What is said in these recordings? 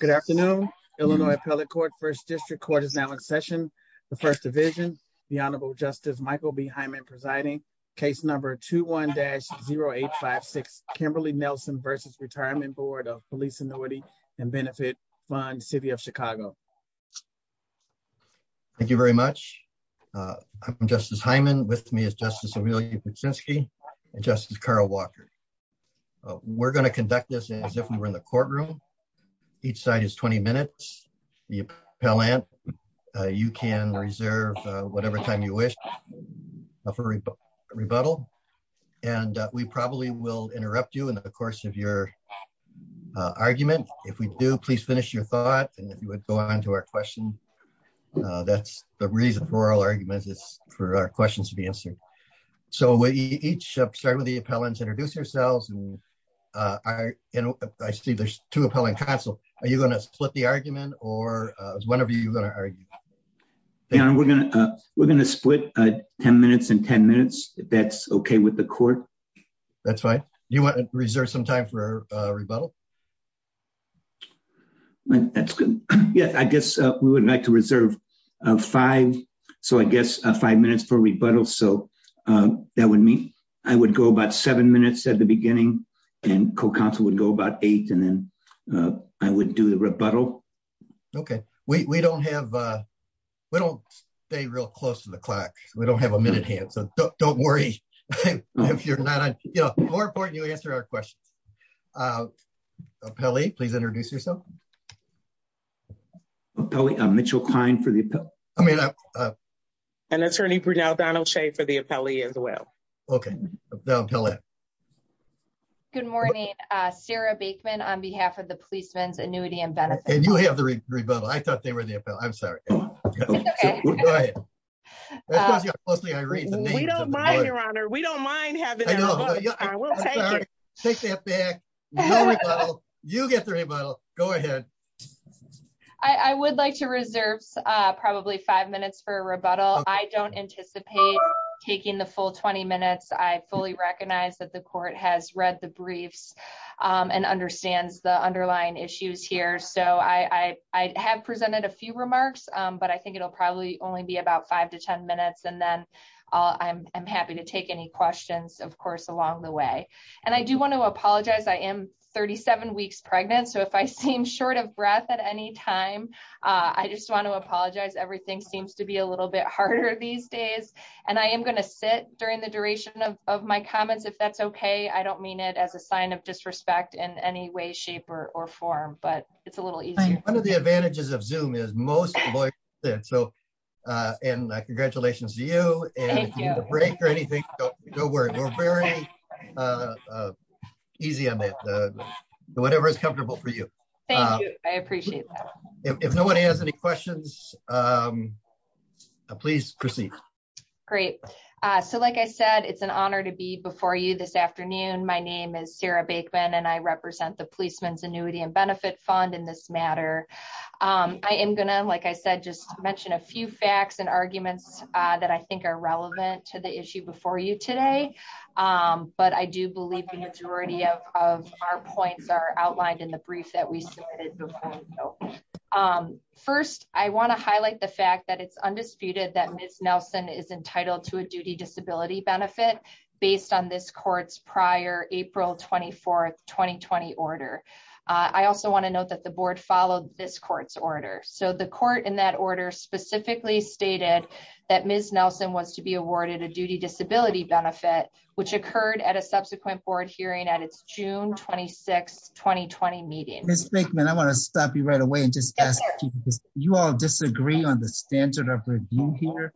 Good afternoon. Illinois Appellate Court First District Court is now in session. The First Division, the Honorable Justice Michael B. Hyman presiding, case number 21-0856, Kimberly Nelson v. Retirement Board of Police Annuity & Benefit Fund City of Chicago. Thank you very much. I'm Justice Hyman. With me is Justice Amelia Kuczynski and Justice Carl Walker. We're going to conduct this as if we were in the courtroom. Each side is 20 minutes. The appellant, you can reserve whatever time you wish for rebuttal, and we probably will interrupt you in the course of your argument. If we do, please finish your thought, and if you would go on to our question. That's the reason for our argument is for our questions to be answered. So each of the appellants, introduce yourselves. I see there's two appellant counsel. Are you going to split the argument, or is one of you going to argue? Yeah, we're going to split 10 minutes and 10 minutes, if that's okay with the court. That's fine. Do you want to reserve some time for rebuttal? That's good. Yeah, I guess we would like to reserve five minutes for rebuttal. That would be, I would go about seven minutes at the beginning, and co-counsel would go about eight, and then I would do the rebuttal. Okay, we don't have, we don't stay real close to the clock. We don't have a minute here, so don't worry if you're not, you know, more important you answer our question. Appellee, please introduce yourself. Appellee, I'm Mitchell Klein for the, I mean, an attorney for now, Donald Shea for the appellee as well. Okay. Good morning, Sarah Baikman on behalf of the Policeman's Annuity and Benefits. You have the rebuttal. I thought they were the appellant. I'm sorry. We don't mind, your honor. We don't mind having you. Take that back. You get the rebuttal. Go ahead. I would like to reserve probably five minutes for rebuttal. I don't anticipate taking the full 20 minutes. I fully recognize that the court has read the briefs and understands the underlying issues here, so I have presented a few remarks, but I think it'll probably only be about five to ten minutes, and then I'm happy to take any questions, of course, along the way, and I do want to apologize. I am 37 weeks pregnant, so if I seem short of breath at any time, I just want to apologize. Everything seems to be a little bit harder these days, and I am going to sit during the duration of my comments, if that's okay. I don't mean it as a sign of disrespect in any way, shape, or form, but it's a little easy. One of the advantages of Zoom is most voices sit, so, and congratulations to you, and if you need a break or anything, no worries. We're very easy on that, so whatever is comfortable for you. Thank you. I appreciate that. If no one has any questions, please proceed. Great. So, like I said, it's an honor to be before you this afternoon. My name is Sarah Baikman, and I represent the Policeman's Annuity and Benefit Fund in this matter. I am going to, like I said, just mention a few facts and arguments that I think are relevant to the issue before you today, but I do believe the majority of our points are outlined in the brief that we started before. So, first, I want to highlight the fact that it's undisputed that Ms. Nelson is entitled to a duty disability benefit based on this court's prior April 24, 2020 order. I also want to note that the board followed this that Ms. Nelson wants to be awarded a duty disability benefit, which occurred at a subsequent board hearing at its June 26, 2020 meeting. Ms. Baikman, I'm going to stop you right away and just ask, do you all disagree on the standard of review here?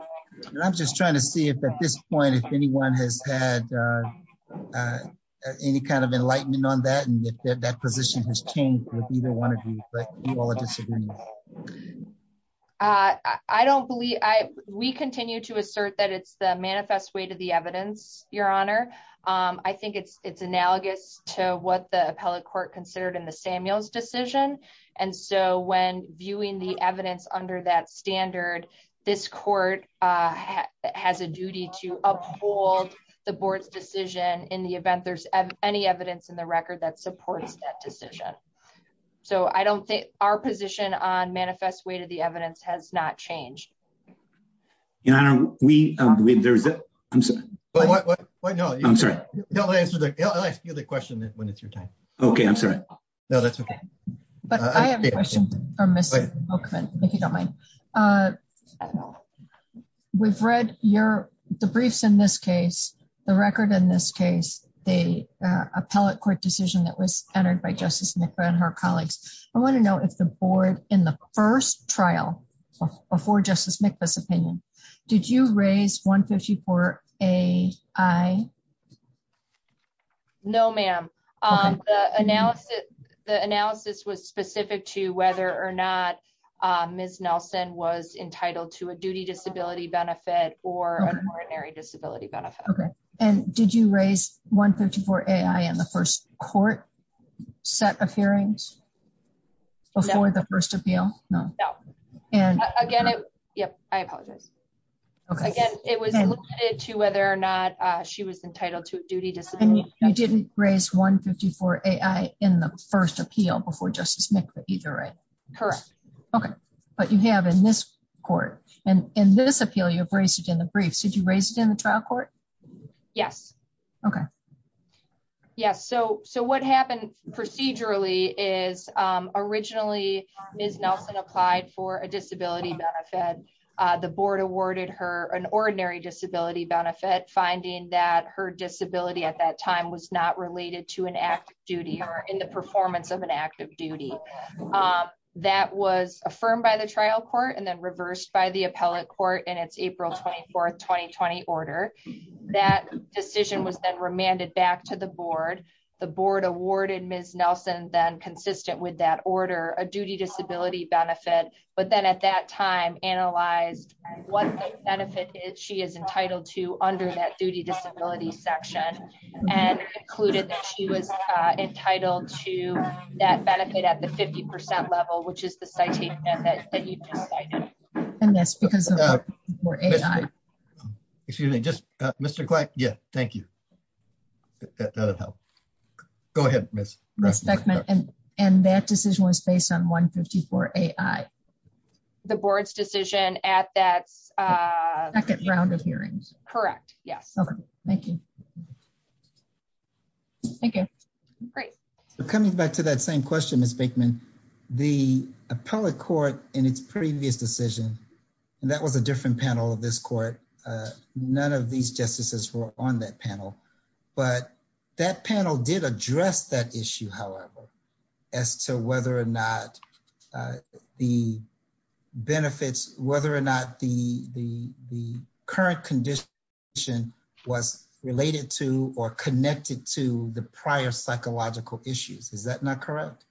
I'm just trying to see if at this point, if anyone has had any kind of enlightenment on that, and if that position has changed with either one of you. I don't believe, we continue to assert that it's the manifest way to the evidence, Your Honor. I think it's analogous to what the appellate court considered in the Samuels decision, and so when viewing the evidence under that standard, this court has a duty to uphold the board's decision in the event there's any evidence in the record that supports that decision. So I don't think our position on manifest way to the evidence has not changed. Your Honor, we, there is a, I'm sorry. No, I'll ask you the question when it's your time. Okay, I'm sorry. No, that's okay. But I have a question for Ms. Baikman, if you don't mind. We've read your, the briefs in this case, the record in this case, the appellate court decision that was entered by Justice Nickla and her colleagues. I want to know if the board in the first trial before Justice Nickla's opinion, did you raise 154 AI? No, ma'am. The analysis, the analysis was specific to whether or not Ms. Nelson was entitled to a duty disability benefit or a coronary disability benefit. Okay, and did you raise 154 AI in the first court set of hearings before the first appeal? No. No. And again, I, yep, I apologize. Okay. Again, it was specific to whether or not she was entitled to a duty disability. You didn't raise 154 AI in the first appeal before Justice Nickla either, right? Correct. Okay, but you have in this court and in this appeal, you've raised it in the briefs. You raised it in the trial court? Yes. Okay. Yes. So, so what happened procedurally is, um, originally Ms. Nelson applied for a disability benefit. Uh, the board awarded her an ordinary disability benefit, finding that her disability at that time was not related to an active duty or in the performance of an active duty. Um, that was affirmed by the trial court and then reversed by the appellate court and it's April 24th, 2020 order. That decision was then remanded back to the board. The board awarded Ms. Nelson then consistent with that order, a duty disability benefit. But then at that time, analyze what benefit is she is entitled to under that duty disability section and included that she was entitled to that benefit at the 50% level, which is the psyche. And that's because we're AI. Excuse me, just Mr. Yes. Thank you. Go ahead. And that decision was based on 154 AI. The board's decision at that round of hearings. Correct. Yes. Okay. Thank you. Okay. Great. So coming back to that same question, Ms. Baikman, the appellate court in its previous decision, and that was a different panel of this court. Uh, none of these justices were on that panel, but that panel did address that issue. However, as to whether or not, uh, the benefits, whether or not the, the, the current condition was related to or connected to the prior psychological issues, is that not correct?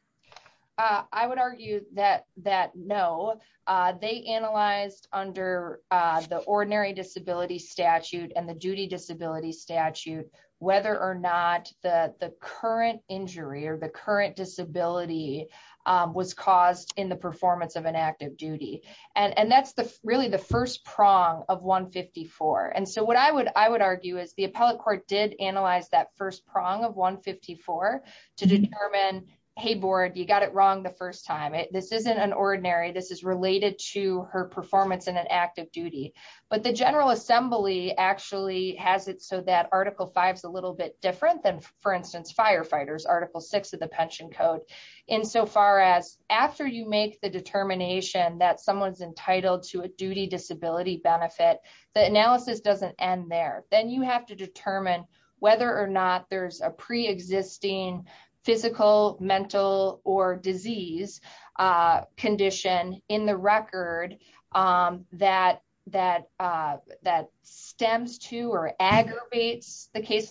Uh, I would argue that, that no, uh, they analyzed under, uh, the ordinary disability statute and the duty disability statute, whether or not the current injury or the current disability, um, was caused in the performance of an active duty. And that's the, really the first prong of 154. And so what I would, I would argue is the appellate court did analyze that first prong of 154 to determine, Hey board, you got it wrong. The first time it, this isn't an ordinary, this is related to her performance in an active duty, but the general assembly actually has it. So that article five is a little bit different than for instance, firefighters, article six of the pension code in so far as after you make the determination that someone's entitled to a duty disability benefit, the analysis doesn't end there. Then you have to determine whether or not there's a pre-existing physical, mental, or disease, uh, condition in the record, um, that, that, uh, that stems to or aggravates the case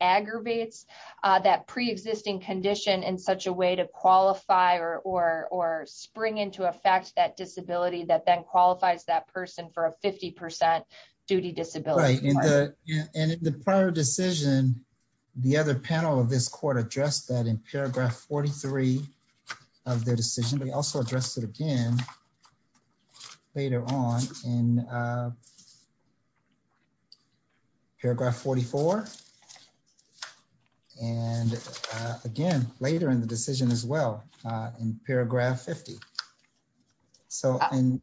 aggravates, uh, that pre-existing condition in such a way to qualify or, or, or spring into effect that disability that then qualifies that person for a 50% duty disability. And in the prior decision, the other panel of this court addressed that in paragraph 43 of their decision, but he also addressed it again later on in, uh, paragraph 44. And, uh, again, later in the decision as well, uh, in paragraph 50. So, and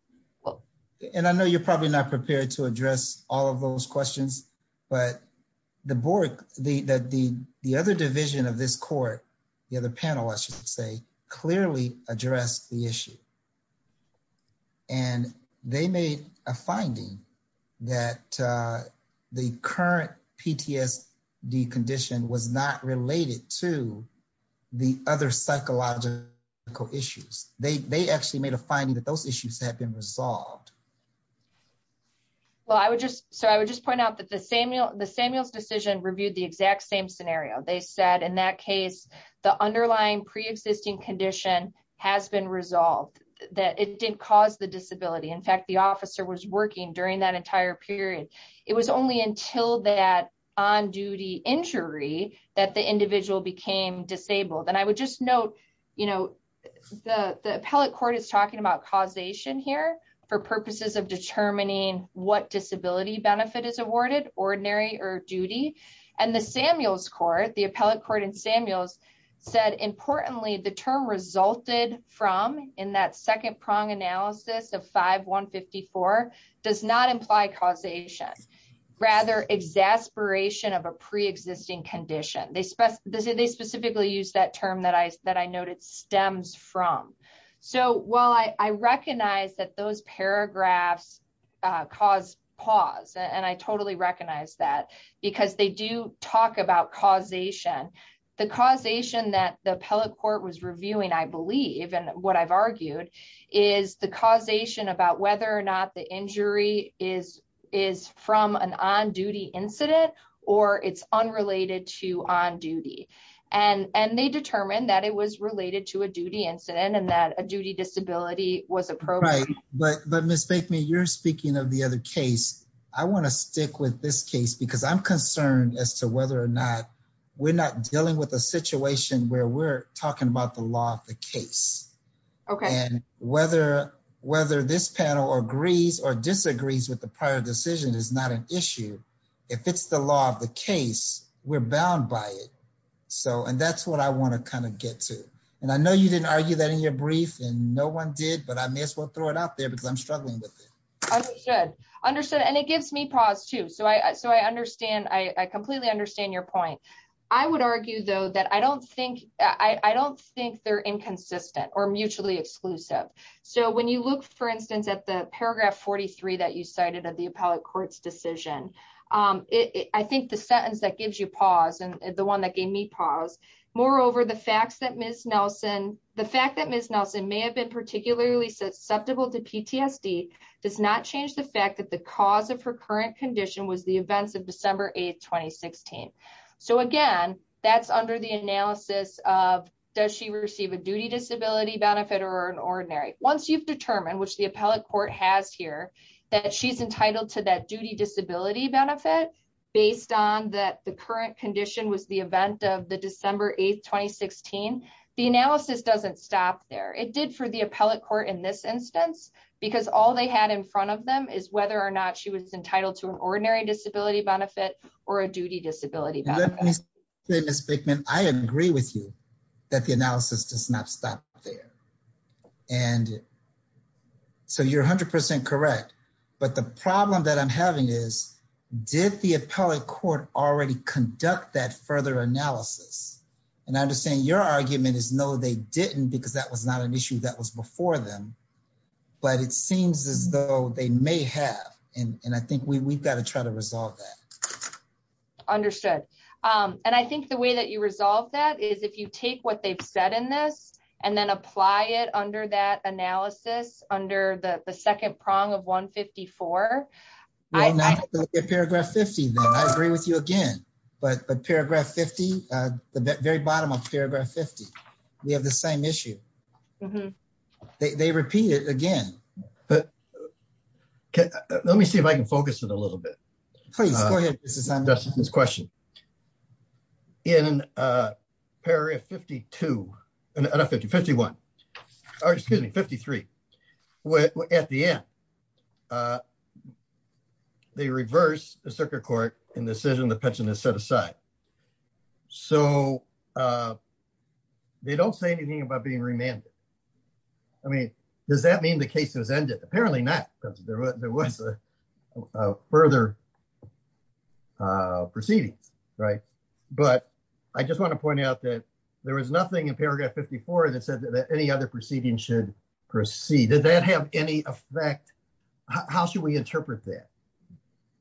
I know you're probably not prepared to address all of those questions, but the board, the, that the, the other division of this court, the other panelists should say clearly address the issue. And they made a finding that, uh, the current PTSD condition was not related to the other psychological issues. They, they actually made a finding that those issues have been resolved. Well, I would just, so I would just point out that the Samuel, the Samuel's decision reviewed the exact same scenario. They said in that case, the underlying pre-existing condition has been resolved that it didn't cause the disability. In fact, the officer was working during that entire period. It was only until that on-duty injury that the individual became disabled. And I would just note, you know, the appellate court is talking about causation here for purposes of determining what disability benefit is awarded, ordinary or duty. And the Samuel's court, the appellate court in Samuel's said, importantly, the term resulted from in that second prong analysis of 5-154 does not imply causation, rather exasperation of a pre-existing condition. They spec, they specifically used that term that I, that I noted stems from. So while I, I recognize that those paragraphs, uh, cause pause and I totally recognize that because they do talk about causation. The causation that the appellate court was reviewing, I believe, and what I've argued is the causation about whether or not the injury is, is from an on-duty incident or it's unrelated to on-duty. And, and they determined that it was related to a duty incident and that a duty disability was appropriate. Right. But, but Ms. I want to stick with this case because I'm concerned as to whether or not we're not dealing with a situation where we're talking about the law of the case. Okay. And whether, whether this panel agrees or disagrees with the prior decision is not an issue. If it's the law of the case, we're bound by it. So, and that's what I want to kind of get to. And I know you didn't argue that in your brief and no one did, but I may as well throw it out because I'm struggling with it. I understood. And it gives me pause too. So I, so I understand, I completely understand your point. I would argue though, that I don't think, I don't think they're inconsistent or mutually exclusive. So when you look, for instance, at the paragraph 43 that you cited at the appellate court's decision, um, it, I think the sentence that gives you pause and the one that gave me pause, moreover, the facts that Ms. Nelson, the fact that Ms. Nelson may have been susceptible to PTSD does not change the fact that the cause of her current condition was the events of December 8th, 2016. So again, that's under the analysis of does she receive a duty disability benefit or an ordinary. Once you've determined, which the appellate court has here, that she's entitled to that duty disability benefit based on that the current condition was the event of the court in this instance, because all they had in front of them is whether or not she was entitled to an ordinary disability benefit or a duty disability. I agree with you that the analysis does not stop there. And so you're a hundred percent correct. But the problem that I'm having is did the appellate court already conduct that further analysis? And I understand your argument is no, they didn't, because that was not an issue that was before them, but it seems as though they may have. And I think we, we've got to try to resolve that. Understood. Um, and I think the way that you resolve that is if you take what they've said in this and then apply it under that analysis under the second prong of 154. I agree with you again, but paragraph 50, uh, the very we have the same issue. They repeat it again, but let me see if I can focus it a little bit. This question in a period of 52 and 51, or excuse me, 53 at the end, uh, they reversed the circuit court and the decision, the pension is set aside. So, uh, they don't say anything about being remanded. I mean, does that mean the case has ended? Apparently not because there wasn't a further, uh, proceeding. Right. But I just want to point out that there was nothing in paragraph 54 that says that any other proceedings should proceed. Does that have any effect? How should we interpret that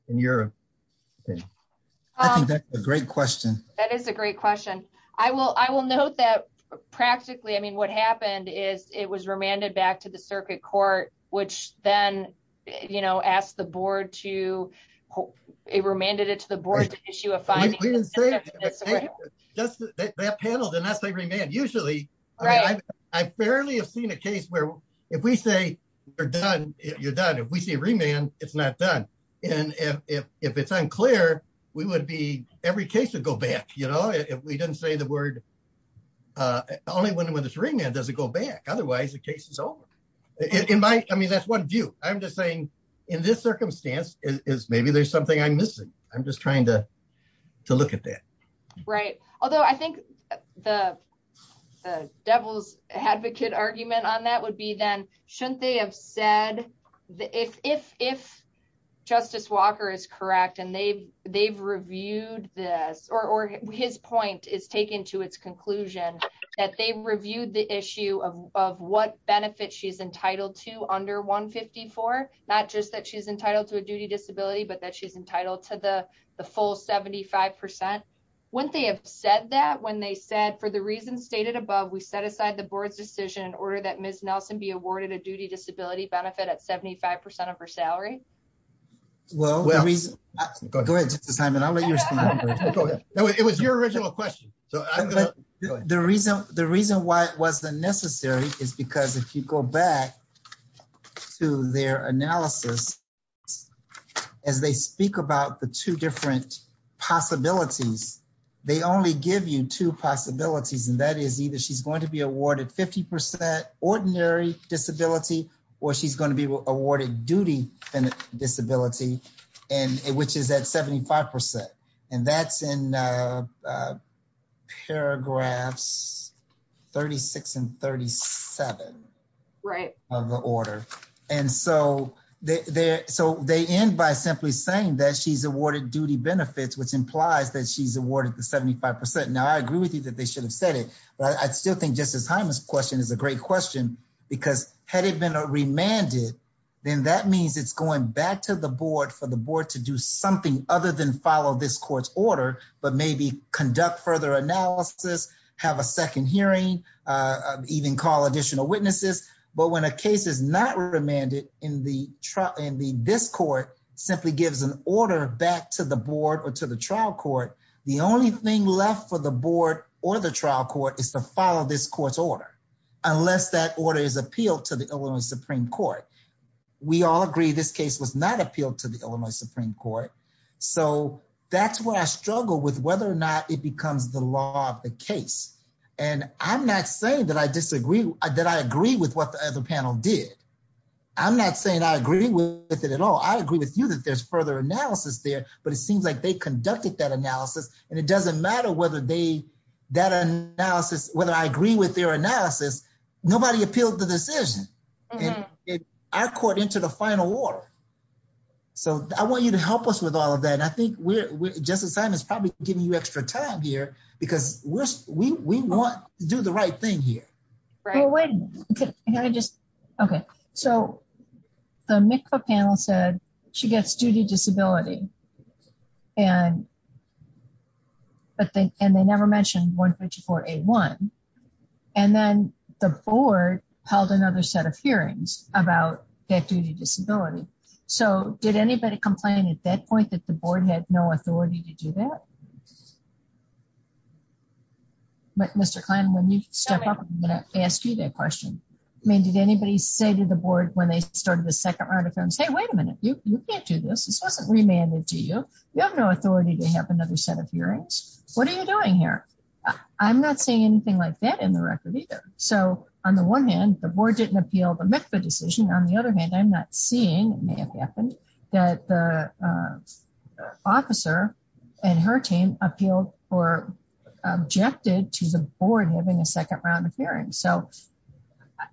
in Europe? I think that's a great question. That is a great question. I will, I will note that practically, I mean, what happened is it was remanded back to the circuit court, which then, you know, asked the board to, it remanded it to the board issue. That panel did not say remand. Usually I barely have seen a case where if we say you're done, you're done. If we see remand, it's not done. And if, if it's unclear, we would be, every case would go back. You know, if we didn't say the word, uh, only when, when it's remand, does it go back? Otherwise the case is over in my, I mean, that's one view. I'm just saying in this circumstance is maybe there's something I'm missing. I'm just trying to, to look at that. Right. Although I think the devil's advocate argument on that would be then shouldn't they have said that if, if, if justice Walker is correct and they they've reviewed this or his point is taken to its conclusion that they've reviewed the issue of, of what benefits she's entitled to under one 54, not just that she's entitled to a duty disability, but that she's entitled to the full 75%. Wouldn't they have said that when they said for the reasons stated above, we set aside the board's decision in order that Ms. Nelson be awarded a duty disability benefit at 75% of her salary. Well, it was your original question. So the reason, the reason why it wasn't necessary is because if you go back to their analysis and they speak about the two different possibilities, they only give you two possibilities. And that is either she's going to be awarded 50% ordinary disability or she's going to be awarded duty disability and which is at 75%. And that's in paragraphs 36 and 37. Right. Of the order. And so they, they end by simply saying that she's awarded duty benefits, which implies that she's awarded the 75%. Now I agree with you that they should have said it, but I still think just the time this question is a great question because had it been a remanded, then that means it's going back to the board for the board to do something other than follow this court's order, but maybe conduct further analysis, have a second hearing, even call additional witnesses. But when a case is not remanded in the, in the, this court simply gives an order back to the board or to the trial court. The only thing left for the board or the trial court is to follow this court's order. Unless that order is appealed to the Illinois Supreme Court. We all agree this case was not appealed to the Illinois Supreme Court. So that's where I struggle with whether or not it becomes the law of the case. And I'm not saying that I disagree, that I agree with what the panel did. I'm not saying I agree with it at all. I agree with you that there's further analysis there, but it seems like they conducted that analysis and it doesn't matter whether they, that analysis, whether I agree with their analysis, nobody appealed the decision. I caught into the final order. So I want you to help us with all of that. And I think we're, just in time, it's probably giving you extra time here because we want to do the right thing here. Okay. So the MICFA panel said she gets duty disability and that they, and they never mentioned 154A1. And then the board held another set of hearings about that duty disability. So did anybody complain at that point that the board had no authority to do that? Mr. Klein, let me step up and ask you that question. I mean, did anybody say to the board when they started the second article and say, wait a minute, you can't do this. It's not remanded to you. You have no authority to have another set of hearings. What are you doing here? I'm not seeing anything like that in the record either. So on the one hand, the board didn't appeal the MICFA decision. On the other hand, I'm not seeing, it may have and her team appealed or objected to the board having a second round of hearings. So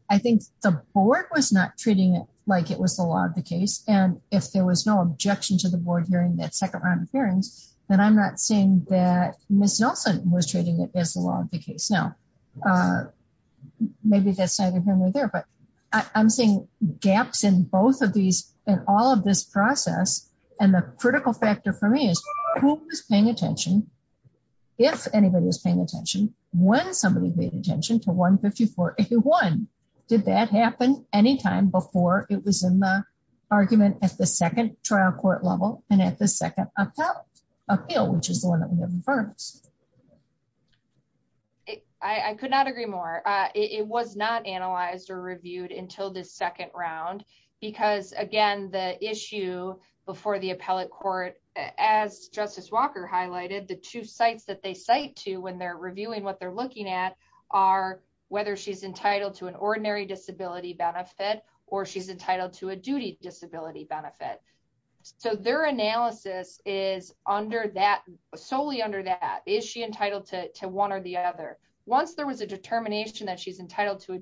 I think the board was not treating it like it was a law of the case. And if there was no objection to the board during the second round of hearings, then I'm not seeing that Ms. Nelson was treating it as a law of the case. Now, maybe that side of him was there, but I'm seeing gaps in both of all of this process. And the critical factor for me is who was paying attention. If anybody was paying attention, when somebody paid attention to 154, if you won, did that happen anytime before it was in the argument at the second trial court level and at the second appeal, which is the one that we have in front of us. I could not agree more. It was not analyzed or reviewed until the issue before the appellate court, as Justice Walker highlighted, the two sites that they cite to when they're reviewing what they're looking at are whether she's entitled to an ordinary disability benefit or she's entitled to a duty disability benefit. So their analysis is solely under that. Is she entitled to one or the other? Once there was a determination that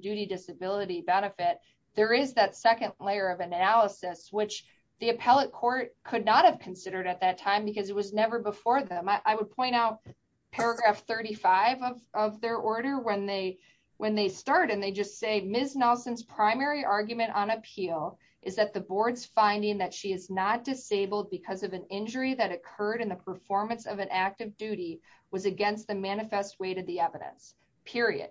duty disability benefit, there is that second layer of analysis, which the appellate court could not have considered at that time because it was never before them. I would point out paragraph 35 of their order when they start and they just say Ms. Nelson's primary argument on appeal is that the board's finding that she is not disabled because of an injury that occurred in the performance of an active duty was against the manifest weight of the evidence, period.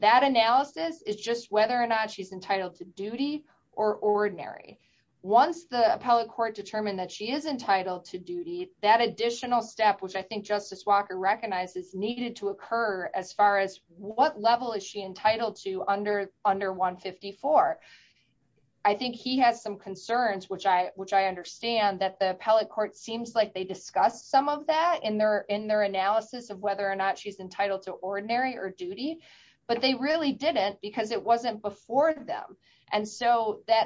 That analysis is just whether or not she's entitled to duty or ordinary. Once the appellate court determined that she is entitled to duty, that additional step, which I think Justice Walker recognizes needed to occur as far as what level is she entitled to under 154. I think he has some concerns, which I understand that the appellate court seems like they discussed some of that in their analysis of whether or not she's entitled to ordinary or duty, but they really didn't because it wasn't before them.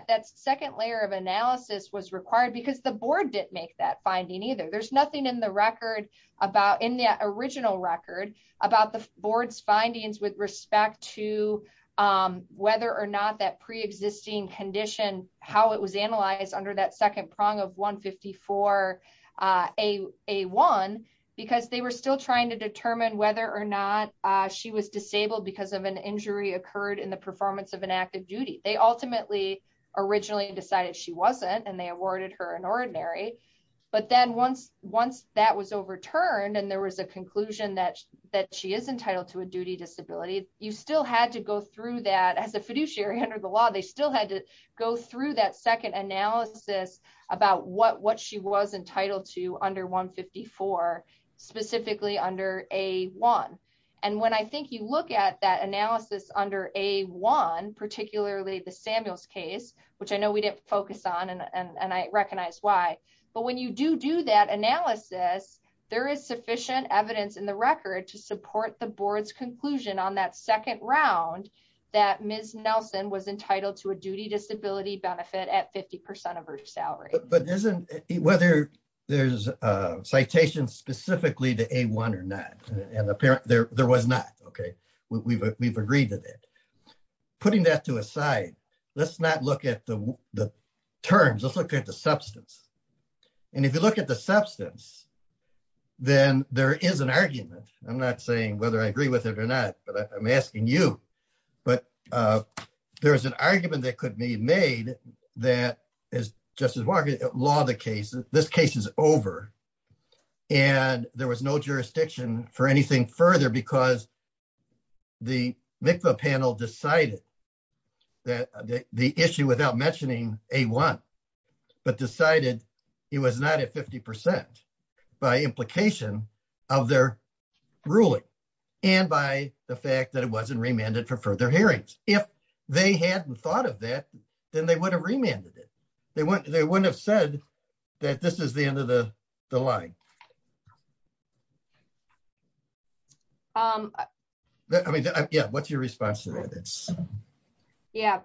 That second layer of analysis was required because the board didn't make that finding either. There's nothing in the original record about the board's findings with respect to whether or not that preexisting condition, how it was analyzed under that second prong of 154A1 because they were still trying to determine whether or not she was disabled because of an injury occurred in the performance of an active duty. They ultimately originally decided she wasn't and they awarded her an ordinary. But then once that was overturned and there was a conclusion that she is entitled to a duty disability, you still had to go through that as a fiduciary under the law. They still had to through that second analysis about what she was entitled to under 154, specifically under A1. And when I think you look at that analysis under A1, particularly the Samuels case, which I know we didn't focus on and I recognize why, but when you do do that analysis, there is sufficient evidence in the record to support the board's conclusion on that second round that Ms. Nelson was entitled to a duty disability benefit at 50% of her salary. Whether there's a citation specifically to A1 or not, there was not. We've agreed to that. Putting that to a side, let's not look at the terms, let's look at the substance. And if you look at the substance, then there is an argument. I'm not saying whether I agree with it or not, but I'm asking you. But there's an argument that could be made that, as Justice Vargas at law the case, this case is over. And there was no jurisdiction for anything further because the MICVA panel decided that the issue without mentioning A1, but decided it was not at 50% by implication of their ruling and by the fact that it wasn't remanded for further hearings. If they hadn't thought of that, then they would have remanded it. They wouldn't have said that this is the end of the line. What's your response to that? Yeah.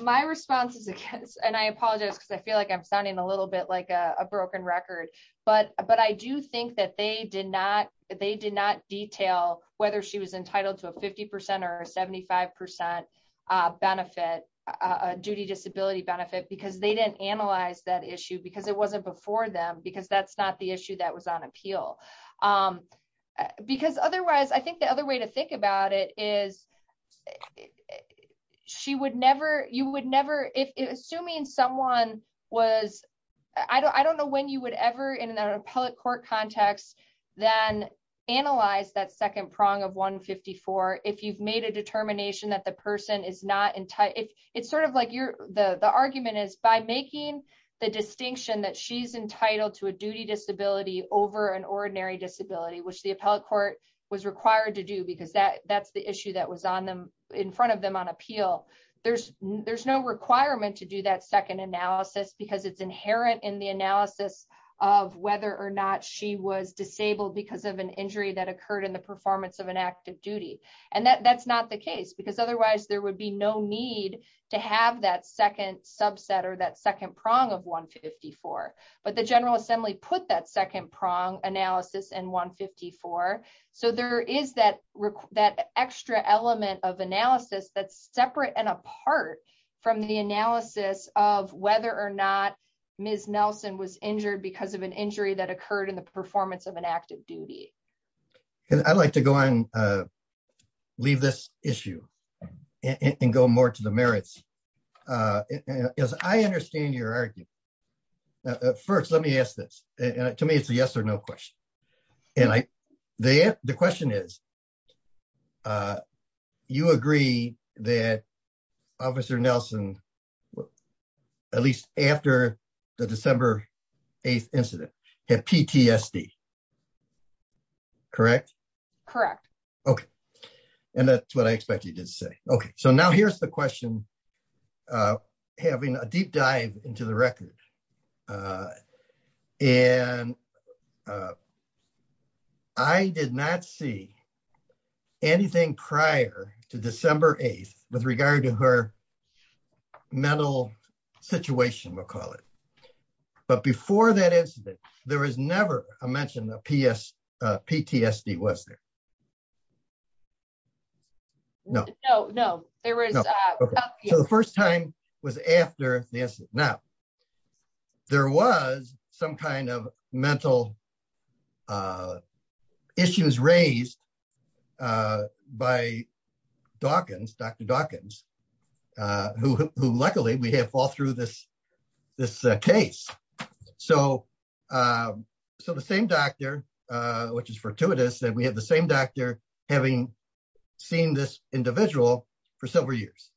My response is against, and I apologize because I feel like I'm sounding a little bit like a broken record, but I do think that they did not detail whether she was entitled to a 50% or a 75% benefit, a duty disability benefit, because they didn't analyze that issue because it wasn't before them, because that's not the issue that was on appeal. Because otherwise, I think the other way to think about it is, assuming someone was, I don't know when you would ever, in an appellate court context, then analyze that second prong of 154 if you've made a determination that the person is not entitled. It's sort of like the argument is by making the distinction that she's entitled to a duty disability over an ordinary disability, which the because that's the issue that was in front of them on appeal. There's no requirement to do that second analysis because it's inherent in the analysis of whether or not she was disabled because of an injury that occurred in the performance of an active duty. That's not the case because otherwise there would be no need to have that second subset or that second prong of 154. So there is that extra element of analysis that's separate and apart from the analysis of whether or not Ms. Nelson was injured because of an injury that occurred in the performance of an active duty. And I'd like to go ahead and leave this issue and go more to the merits. Because I understand your argument. First, let me ask this. To me, it's a yes or no question. The question is, you agree that Officer Nelson, at least after the December 8th incident, had PTSD, correct? Correct. Okay, and that's what I expect you to say. Okay, so now here's the question having a deep dive into the records. And I did not see anything prior to December 8th with regard to her mental situation, we'll call it. But before that incident, there was the first time was after this. Now, there was some kind of mental issues raised by Dawkins, Dr. Dawkins, who luckily we had all through this, this case. So, so the same doctor, which is fortuitous that we have the same doctor having seen this individual for several years.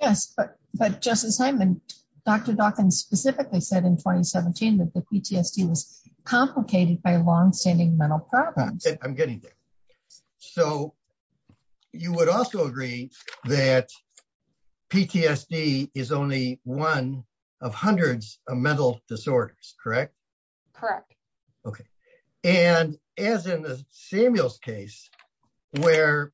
Yes, but, but Justice Hyman, Dr. Dawkins specifically said in 2017, that the PTSD was complicated by long standing mental problems. I'm getting there. So, you would also agree that PTSD is only one of hundreds of mental disorders, correct? Correct. Okay. And as in the Samuel's case, where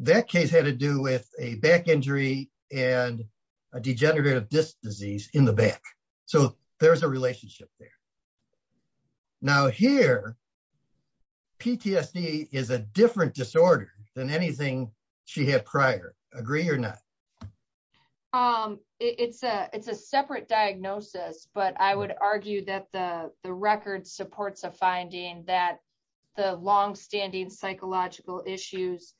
that case had to do with a back injury and a degenerative disc disease in the back. So, there's a relationship there. Now, here, PTSD is a different disorder than anything she had prior. Agree or not? It's a separate diagnosis. But I would argue that the record supports a finding that the long standing psychological issues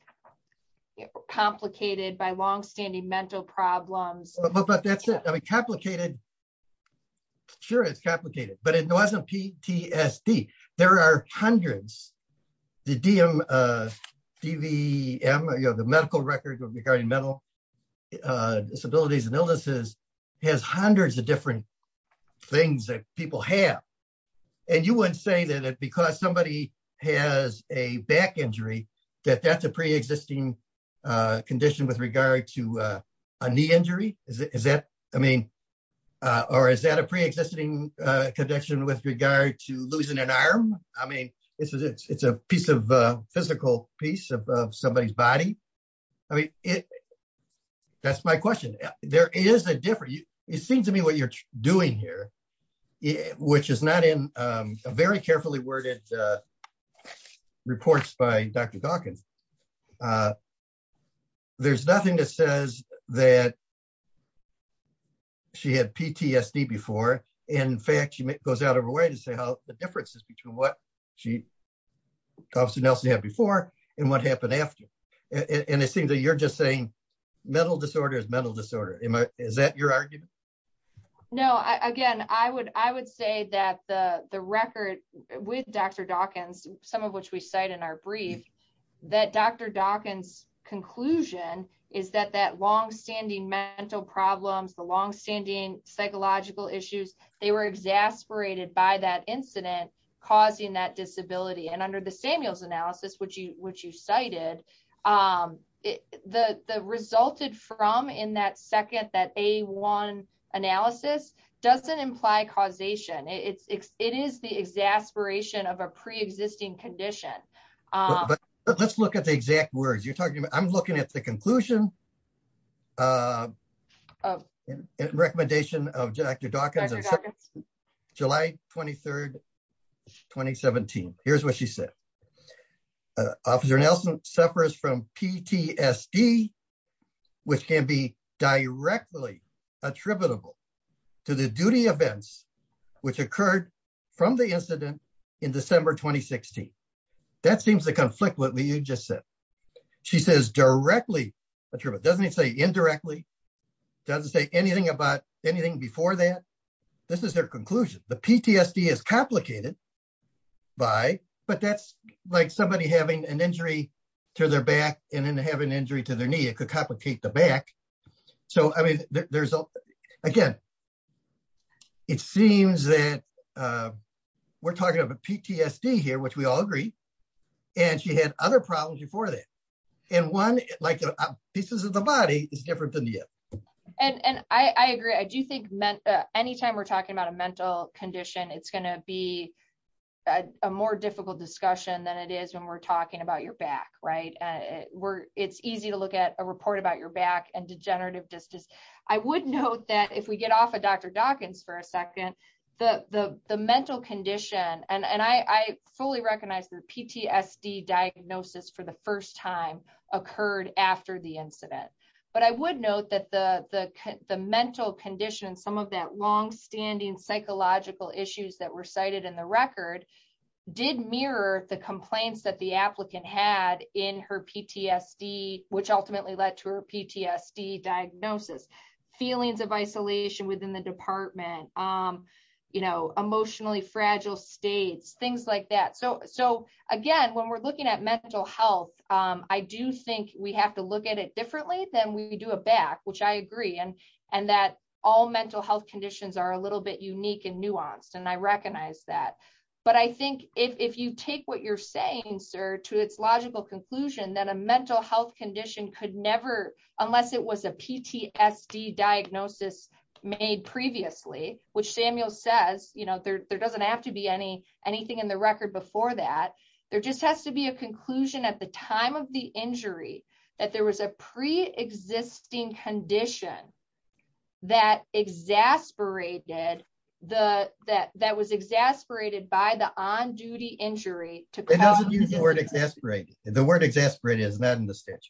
complicated by long standing mental problems. But that's complicated. Sure, it's complicated, but it wasn't PTSD. There are hundreds. The DM, DVM, you know, the medical records regarding mental disabilities and illnesses has hundreds of different things that people have. And you would say that because somebody has a back injury, that that's a pre-existing condition with regard to a knee injury? Is that, I mean, or is that a pre-existing condition with regard to losing an That's my question. There is a difference. It seems to me what you're doing here, which is not in a very carefully worded reports by Dr. Dawkins. There's nothing that says that she had PTSD before. In fact, she goes out of her way to say how the differences between what she had before and what happened after. And it seems that you're just saying mental disorder is mental disorder. Is that your argument? No, again, I would say that the record with Dr. Dawkins, some of which we cite in our brief, that Dr. Dawkins conclusion is that that long standing mental problems, the long standing psychological issues, they were exasperated by that incident causing that disability. And under the Samuels analysis, which you cited, the resulted from in that second, that A1 analysis doesn't imply causation. It is the exasperation of a pre-existing condition. Let's look at the exact words you're talking about. I'm going to go back to the 23rd, 2017. Here's what she said. Officer Nelson suffers from PTSD, which can be directly attributable to the duty events, which occurred from the incident in December, 2016. That seems to conflict with what you just said. She says directly. Doesn't it say indirectly? Doesn't say anything about anything before that? This is her conclusion. The PTSD is complicated by, but that's like somebody having an injury to their back and then having an injury to their knee. It could complicate the back. So, I mean, there's, again, it seems that we're talking about PTSD here, which we all agree. And she had other problems before that. And one, like pieces of the body is different than the other. And I agree. I do think anytime we're talking about a mental condition, it's going to be a more difficult discussion than it is when we're talking about your back, right? It's easy to look at a report about your back and degenerative distance. I would note that if we get off of Dr. Dawkins for a second, the mental condition, and I fully recognize the PTSD diagnosis for the first time occurred after the incident. But I would note that the mental condition, some of that long standing psychological issues that were cited in the record did mirror the complaints that the applicant had in her PTSD, which ultimately led to her PTSD diagnosis. Feelings of isolation within the department, you know, emotionally fragile states, things like that. So, again, when we're looking at mental health, I do think we have to look at it differently than we do a back, which I agree. And that all mental health conditions are a little bit unique and nuanced. And I recognize that. But I think if you take what you're saying, sir, to its logical conclusion, that a mental health condition could never, unless it was a PTSD diagnosis made previously, which Samuel says, you know, there doesn't have to be anything in the record before that. There just has to be a conclusion at the time of the injury, that there was a pre-existing condition that exasperated, that was exasperated by the on-duty injury. It doesn't use the word exasperated. The word exasperated is not in the statute.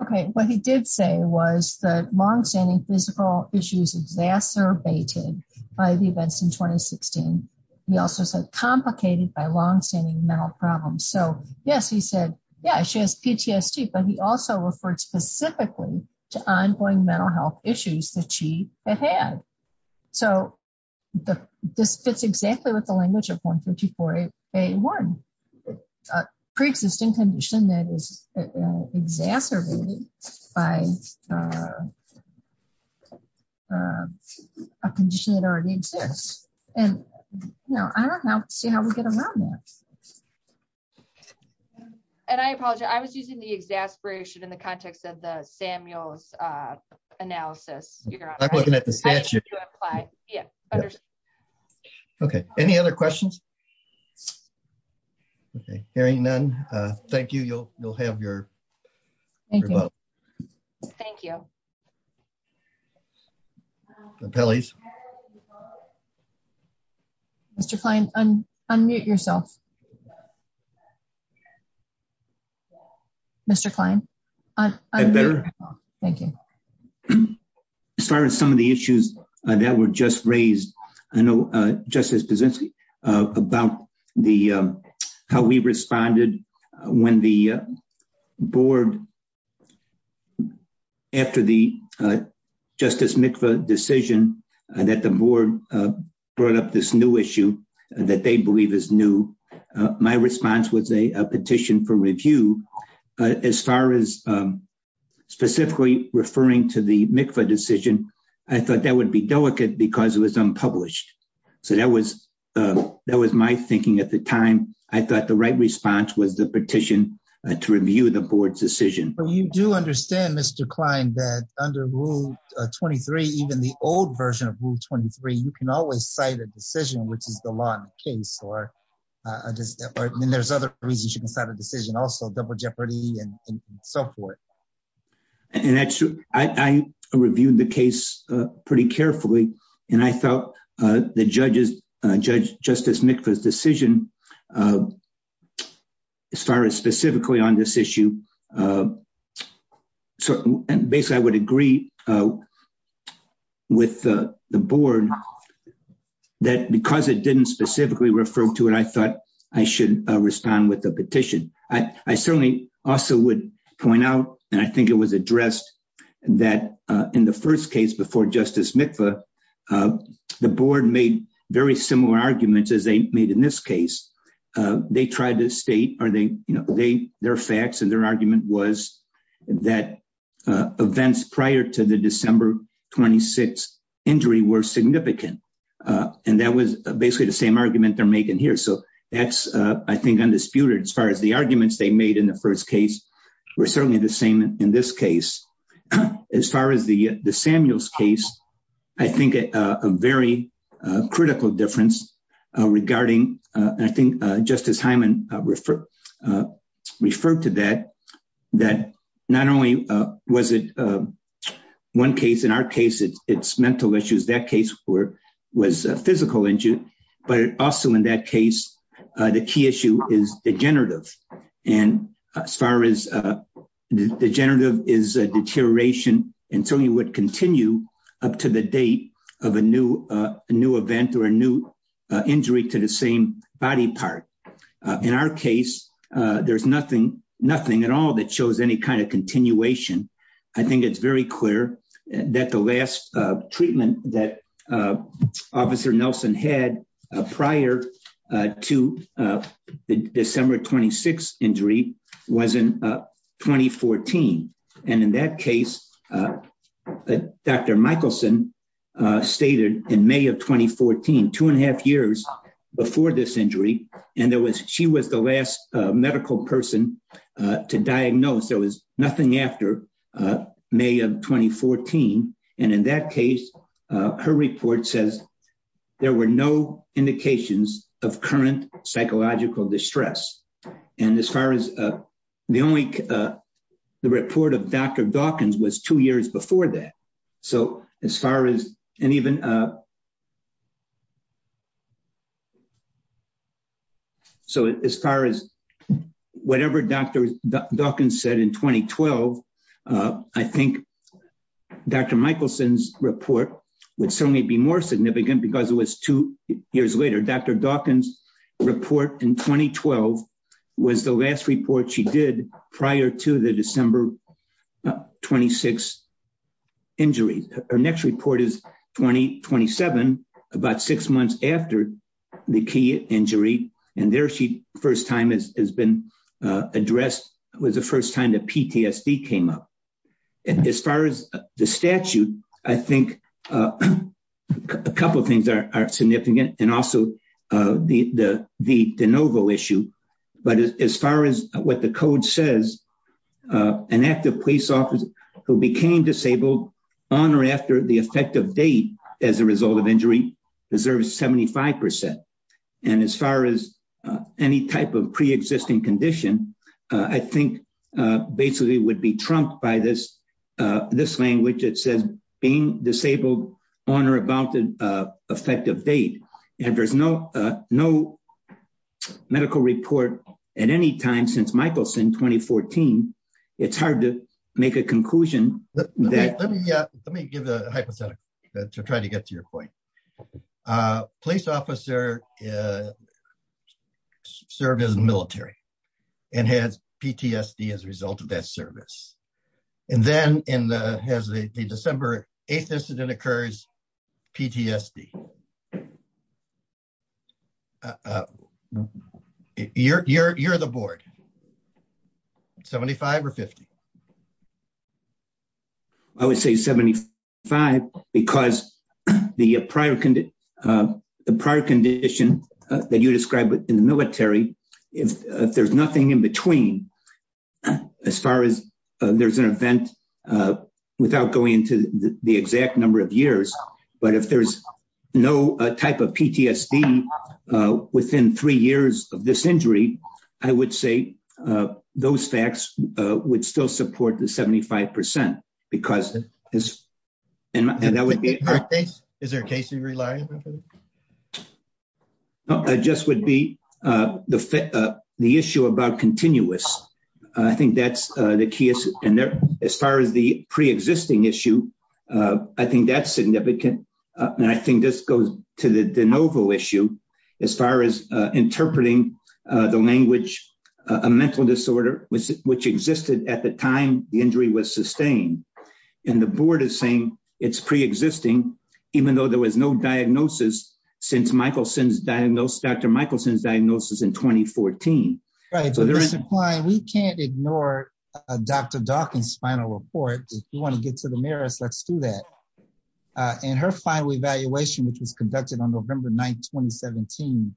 Okay. What he did say was the long standing physical issues exacerbated by the events in 2016. He also said complicated by long standing mental problems. So, yes, he said, yeah, she has PTSD, but he also referred specifically to ongoing mental health issues that she has had. So, this fits exactly with the language of 154A1, a pre-existing condition that is exacerbated by a condition that already exists. And, you know, I don't know how we get around that. And I apologize. I was using the exasperation in the context of Samuel's analysis. Okay. Any other questions? Okay. Hearing none. Thank you. You'll have your vote. Thank you. Mr. Kline, unmute yourself. Mr. Kline. Thank you. As far as some of the issues that were just raised, I know Justice Pazinski about how we responded when the board, after the Justice Mikva decision, that the board brought up this new issue that they believe is new. My response was a petition for review. As far as specifically referring to the Mikva decision, I thought that would be delicate because it was unpublished. So, that was my thinking at the time. I thought the right response was the petition to review the board's decision. But you do understand, Mr. Kline, that under Rule 23, even the old version of Rule 23, you can always cite a decision, which is the law in the case. And there's other reasons you can cite a decision, also double jeopardy and so forth. And actually, I reviewed the case pretty carefully, and I felt the Justice Mikva's decision, as far as specifically on this issue, basically, I would agree with the board that because it didn't specifically refer to it, I thought I should respond with a petition. I certainly also would point out, and I think it was addressed, that in the first case before Justice Mikva, the board made very similar arguments as they made in this case. They tried to state, their facts and their argument was that events prior to the December 26th injury were significant. And that was basically the same argument they're making here. So that's, I think, undisputed as far as the arguments they made in the first case were certainly the same in this case. As far as the Samuels case, I think a very critical difference regarding, I think Justice Hyman referred to that, that not only was it one case, in our case, it's mental issues, that case was a physical injury, but also in that case, the key issue is degenerative. And as far as degenerative is a deterioration until you would continue up to the date of a new event or a new injury to the same body part. In our case, there's nothing at all that shows any kind of continuation. I think it's very clear that the last treatment that Officer Nelson had prior to the December 26th injury was in 2014. And in that case, Dr. Michelson stated in May of 2014, two and a half years before this injury, and she was the medical person to diagnose, there was nothing after May of 2014. And in that case, her report says there were no indications of current psychological distress. And as far as the only, the report of Dr. Dawkins was two years before that. So as far as, and even, uh, so as far as whatever Dr. Dawkins said in 2012, I think Dr. Michelson's report would certainly be more significant because it was two years later. Dr. Dawkins report in 2012 was the last report she did prior to the December 26th injury. Her next report is 2027, about six months after the key injury. And there she first time has been addressed was the first time that PTSD came up. And as far as the statute, I think a couple of things are significant. And also the de novo issue. But as far as what the code says, an active police officer who became disabled on or after the effect of date as a result of injury deserves 75%. And as far as any type of preexisting condition, I think basically would be trumped by this, this language that says being no medical report at any time since Michelson 2014, it's hard to make a conclusion. Let me give a hypothetical to try to get to your point. A police officer served in the military and had PTSD as a result of that service. And then in the December 8th incident occurs, PTSD. You're the board. 75 or 50? I would say 75 because the prior condition that you described in the military, if there's nothing in between, as far as there's an event without going into the exact number of years, but if there's no type of PTSD within three years of this injury, I would say those facts would still support the 75% because is, and that would be, is there a case in your life? No, I just would be the issue about continuous. I think that's the key. And as far as the preexisting issue, I think that's significant. And I think this goes to the de novo issue, as far as interpreting the language, a mental disorder, which existed at the time the injury was sustained. And the board is saying it's preexisting, even though there was no diagnosis since Dr. Michelson's diagnosis in 2014. Right. We can't ignore Dr. Dawkins' final report. If you want to get to the merits, let's do that. And her final evaluation, which was conducted on November 9th, 2017,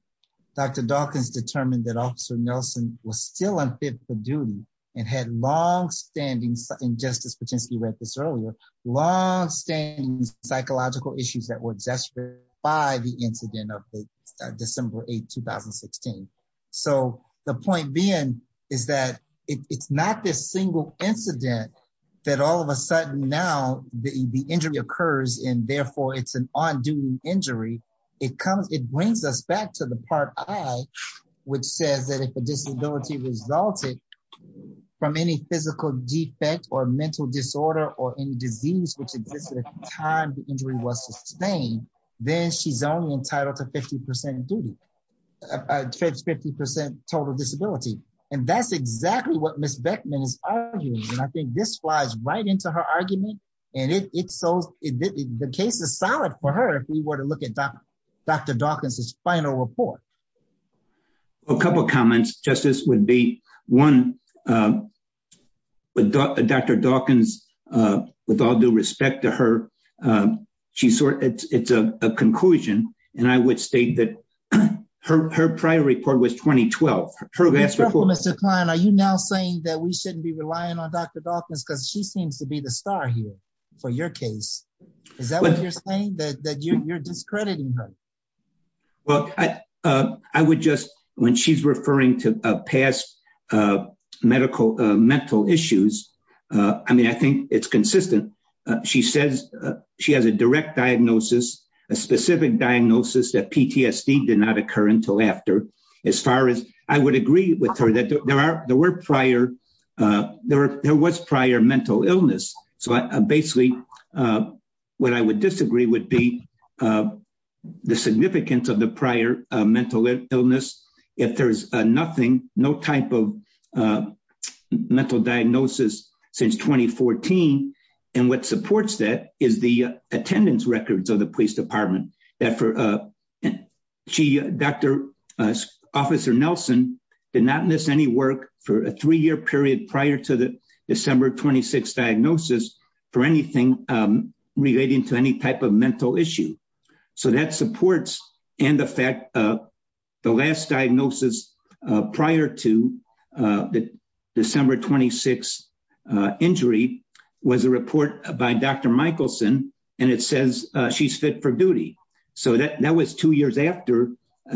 Dr. Dawkins determined that officer Nelson was still unfit for duty and had long standing, and Justice Patinsky read this earlier, long standing psychological issues that were gestured by the incident of December 8th, 2016. So the point being is that it's not this single incident that all of a sudden now the injury occurs and therefore it's an injury. It brings us back to the part I, which says that if a disability resulted from any physical defect or mental disorder or any disease which existed at the time the injury was sustained, then she's only entitled to 50% total disability. And that's exactly what Ms. Beckman is arguing. And I think this flies right into her argument. And the case is solid for her if we were to look at Dr. Dawkins' final report. A couple of comments, Justice, would be one, Dr. Dawkins, with all due respect to her, it's a conclusion. And I would state that her prior report was 2012. Are you now saying that we shouldn't be relying on Dr. Dawkins because she seems to be the star here for your case? Is that what you're saying, that you're discrediting her? Well, I would just, when she's referring to past medical, mental issues, I mean, I think it's consistent. She says she has a direct diagnosis, a specific diagnosis that PTSD did not occur until after. As far as I would agree with her, there were prior, there was prior mental illness. So basically, what I would disagree would be the significance of the prior mental illness. If there's nothing, no type of mental diagnosis since 2014. And what supports that is the attendance records of the police department. That for, she, Dr., Officer Nelson did not miss any work for a three-year period prior to the December 26th diagnosis for anything relating to any type of mental issue. So that supports and affect the last diagnosis prior to the December 26th injury was a report by Dr. Michelson, and it says she's fit for duty. So that was two years after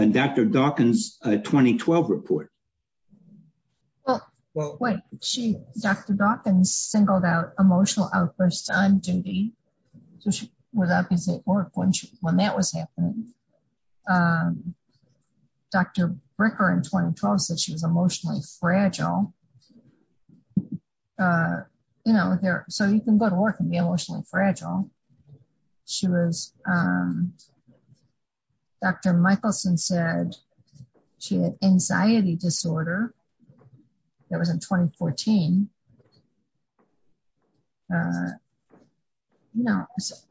Dr. Dawkins' 2012 report. Well, wait, she, Dr. Dawkins singled out emotional outbursts on duty. So she was at work when that was happening. Dr. Bricker in 2012 said she was emotionally fragile. So you can go to work and be emotionally fragile. She was, Dr. Michelson said she had anxiety disorder. That was in 2014.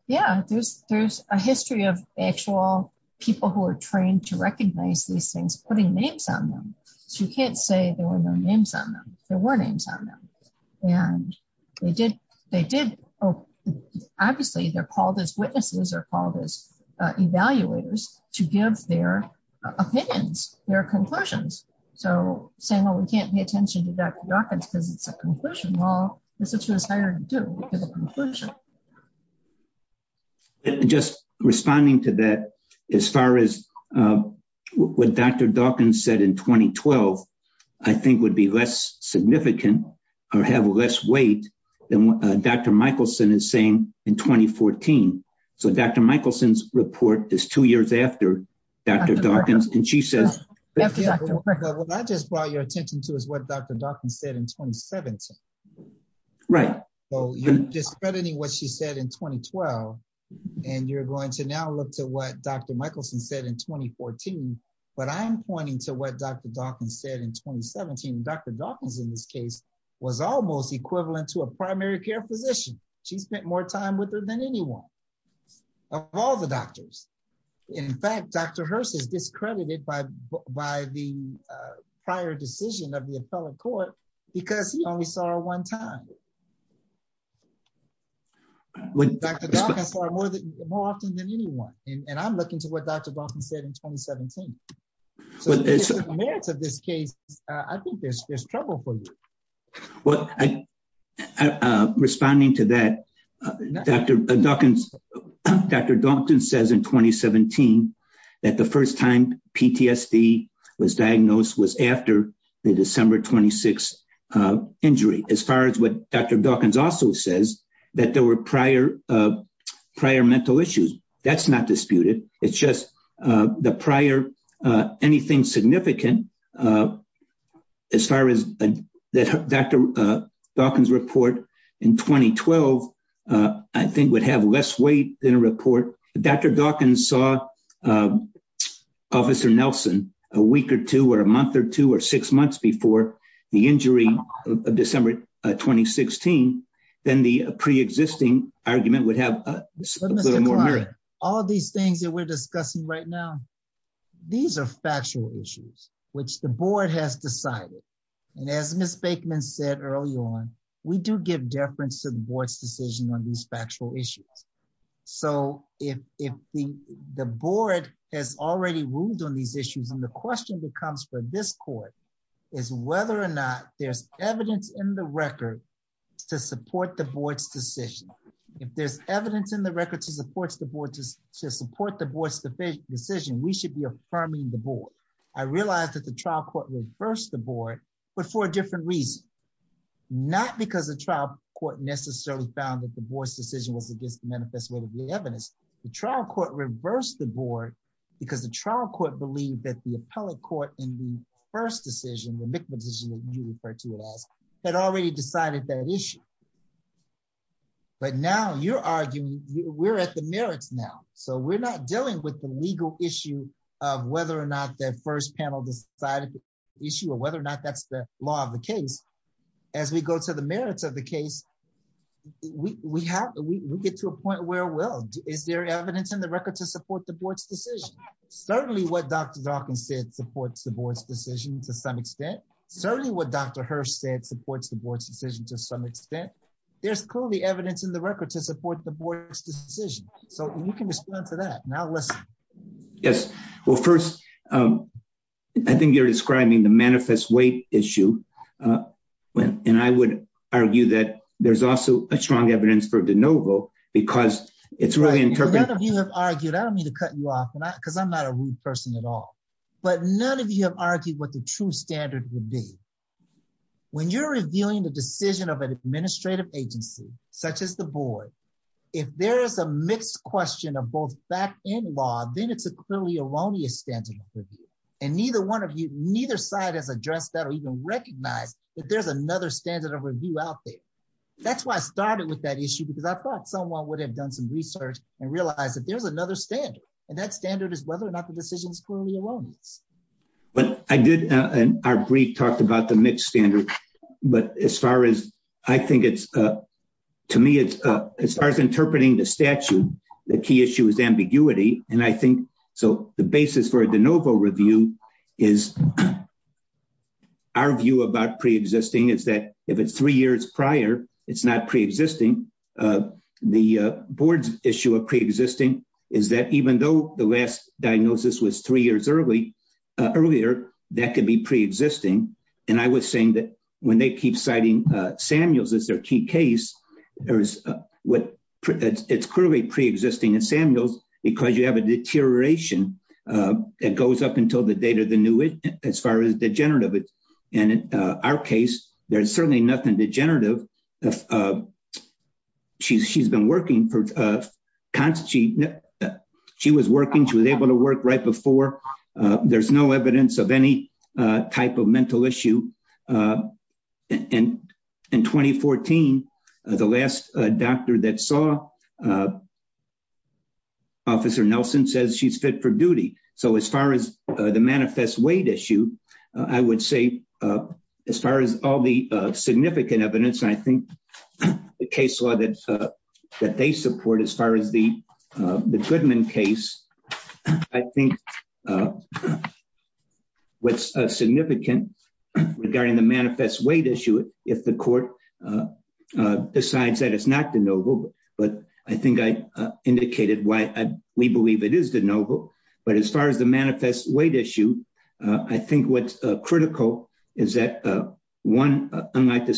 Yeah, there's a history of actual people who are trained to recognize these things, putting names on them. So you can't say there were no names on them. There were names on them. And they did, obviously, they're called as witnesses or called as evaluators to give their opinions, their conclusions. So saying, well, we can't pay attention to Dr. Dawkins because it's a conclusion. Well, this is what it's a conclusion. Just responding to that, as far as what Dr. Dawkins said in 2012, I think would be less significant or have less weight than what Dr. Michelson is saying in 2014. So Dr. Michelson's report is two years after Dr. Dawkins. And she said, Dr. Bricker, what I just brought your attention to is what Dr. Dawkins said in 2017. Right. So you're discrediting what she said in 2012. And you're going to now look to what Dr. Michelson said in 2014. But I'm pointing to what Dr. Dawkins said in 2017. Dr. Dawkins, in this case, was almost equivalent to a primary care physician. She spent more time with her than anyone of all the doctors. In fact, Dr. Hirst is discredited by the prior decision of the appellate court because he only saw her one time. Dr. Dawkins saw her more often than anyone. And I'm looking to what Dr. Dawkins said in 2017. So in the merits of this case, I think there's trouble for you. Well, responding to that, Dr. Dawkins, Dr. Dalton says in 2017, that the first time PTSD was diagnosed was after the December 26th injury. As far as what Dr. Dawkins also says, that there were prior mental issues. That's not disputed. It's just the prior, anything significant, as far as Dr. Dalton's report in 2012, I think would have less weight than a report. Dr. Dalton saw Officer Nelson a week or two, or a month or two, or six months before the injury of December 2016. Then the preexisting argument would have- All these things that we're discussing right now, these are factual issues, which the board has decided. And as Ms. Fakeman said early on, we do give deference to the board's decision on these factual issues. So if the board has already ruled on these issues, then the question that comes for this court is whether or not there's evidence in the record to support the board's decision. If there's evidence in the record to support the board's decision, we should be affirming the board. I realize that the trial court reversed the board, but for a different reason. Not because the trial court necessarily found that the board's decision was against the manifest way of the evidence. The trial court reversed the board because the trial court believed that the appellate court in the first decision, the mixed decision that you referred to it as, had already decided that issue. But now you're arguing, we're at the merits now. So we're not dealing with the legal issue of whether or not the first panel decided the issue or whether or not that's the law of the case. As we go to the merits of the case, we get to a point where, well, is there evidence in the record to support the board's decision? Certainly what Dr. Dawkins said supports the board's decision to some extent. Certainly what Dr. Hurst said supports the board's decision to some extent. There's clearly evidence in the record to support the board's decision. So you can explain for that. Now let's- Yes. Well, first, I think you're describing the manifest weight issue. And I would argue that there's also a strong evidence for de novo because it's really interpreted- None of you have argued. I don't mean to cut you off, because I'm not a rude person at all. But none of you have argued what the true standard would be. When you're revealing the decision of an administrative agency, such as the board, if there is a mixed question of both fact and law, then it's a clearly erroneous standard of review. And neither one of you, neither side has addressed that or even recognized that there's another standard of review out there. That's why I started with that issue, because I thought someone would have done some research and realized that there's another standard. And that standard is whether or not it's true. I did in our brief talk about the mixed standard. But as far as I think it's- To me, as far as interpreting the statute, the key issue is ambiguity. And I think- So the basis for a de novo review is- Our view about pre-existing is that if it's three years prior, it's not pre-existing. The board's issue of pre-existing is that even though the last review was earlier, that could be pre-existing. And I was saying that when they keep citing Samuels as their key case, it's clearly pre-existing in Samuels because you have a deterioration that goes up until the date of the new- as far as degenerative. And in our case, there's certainly nothing degenerative. She's been working. She was working. She was able to work right before. There's no evidence of any type of mental issue. In 2014, the last doctor that saw Officer Nelson says she's fit for duty. So as far as the manifest weight issue, I would say as far as all the significant evidence, I think the case law that they support as far as the Goodman case, I think what's significant regarding the manifest weight issue, if the court decides that it's not de novo, but I think I indicated why we believe it is de novo. But as far as the manifest weight issue, I think what's critical is that one, unlike the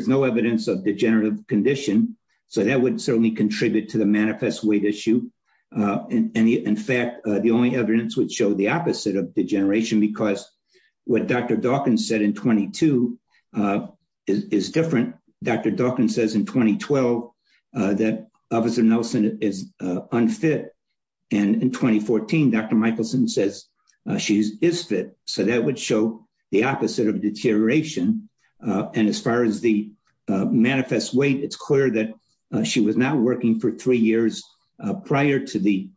evidence of the degenerative condition, so that would certainly contribute to the manifest weight issue. And in fact, the only evidence would show the opposite of degeneration because what Dr. Dawkins said in 22 is different. Dr. Dawkins says in 2012 that Officer Nelson is unfit. And in 2014, Dr. Michelson says she is fit. So that would show the opposite of deterioration. And as far as the manifest weight, it's clear that she was not working for three years prior to the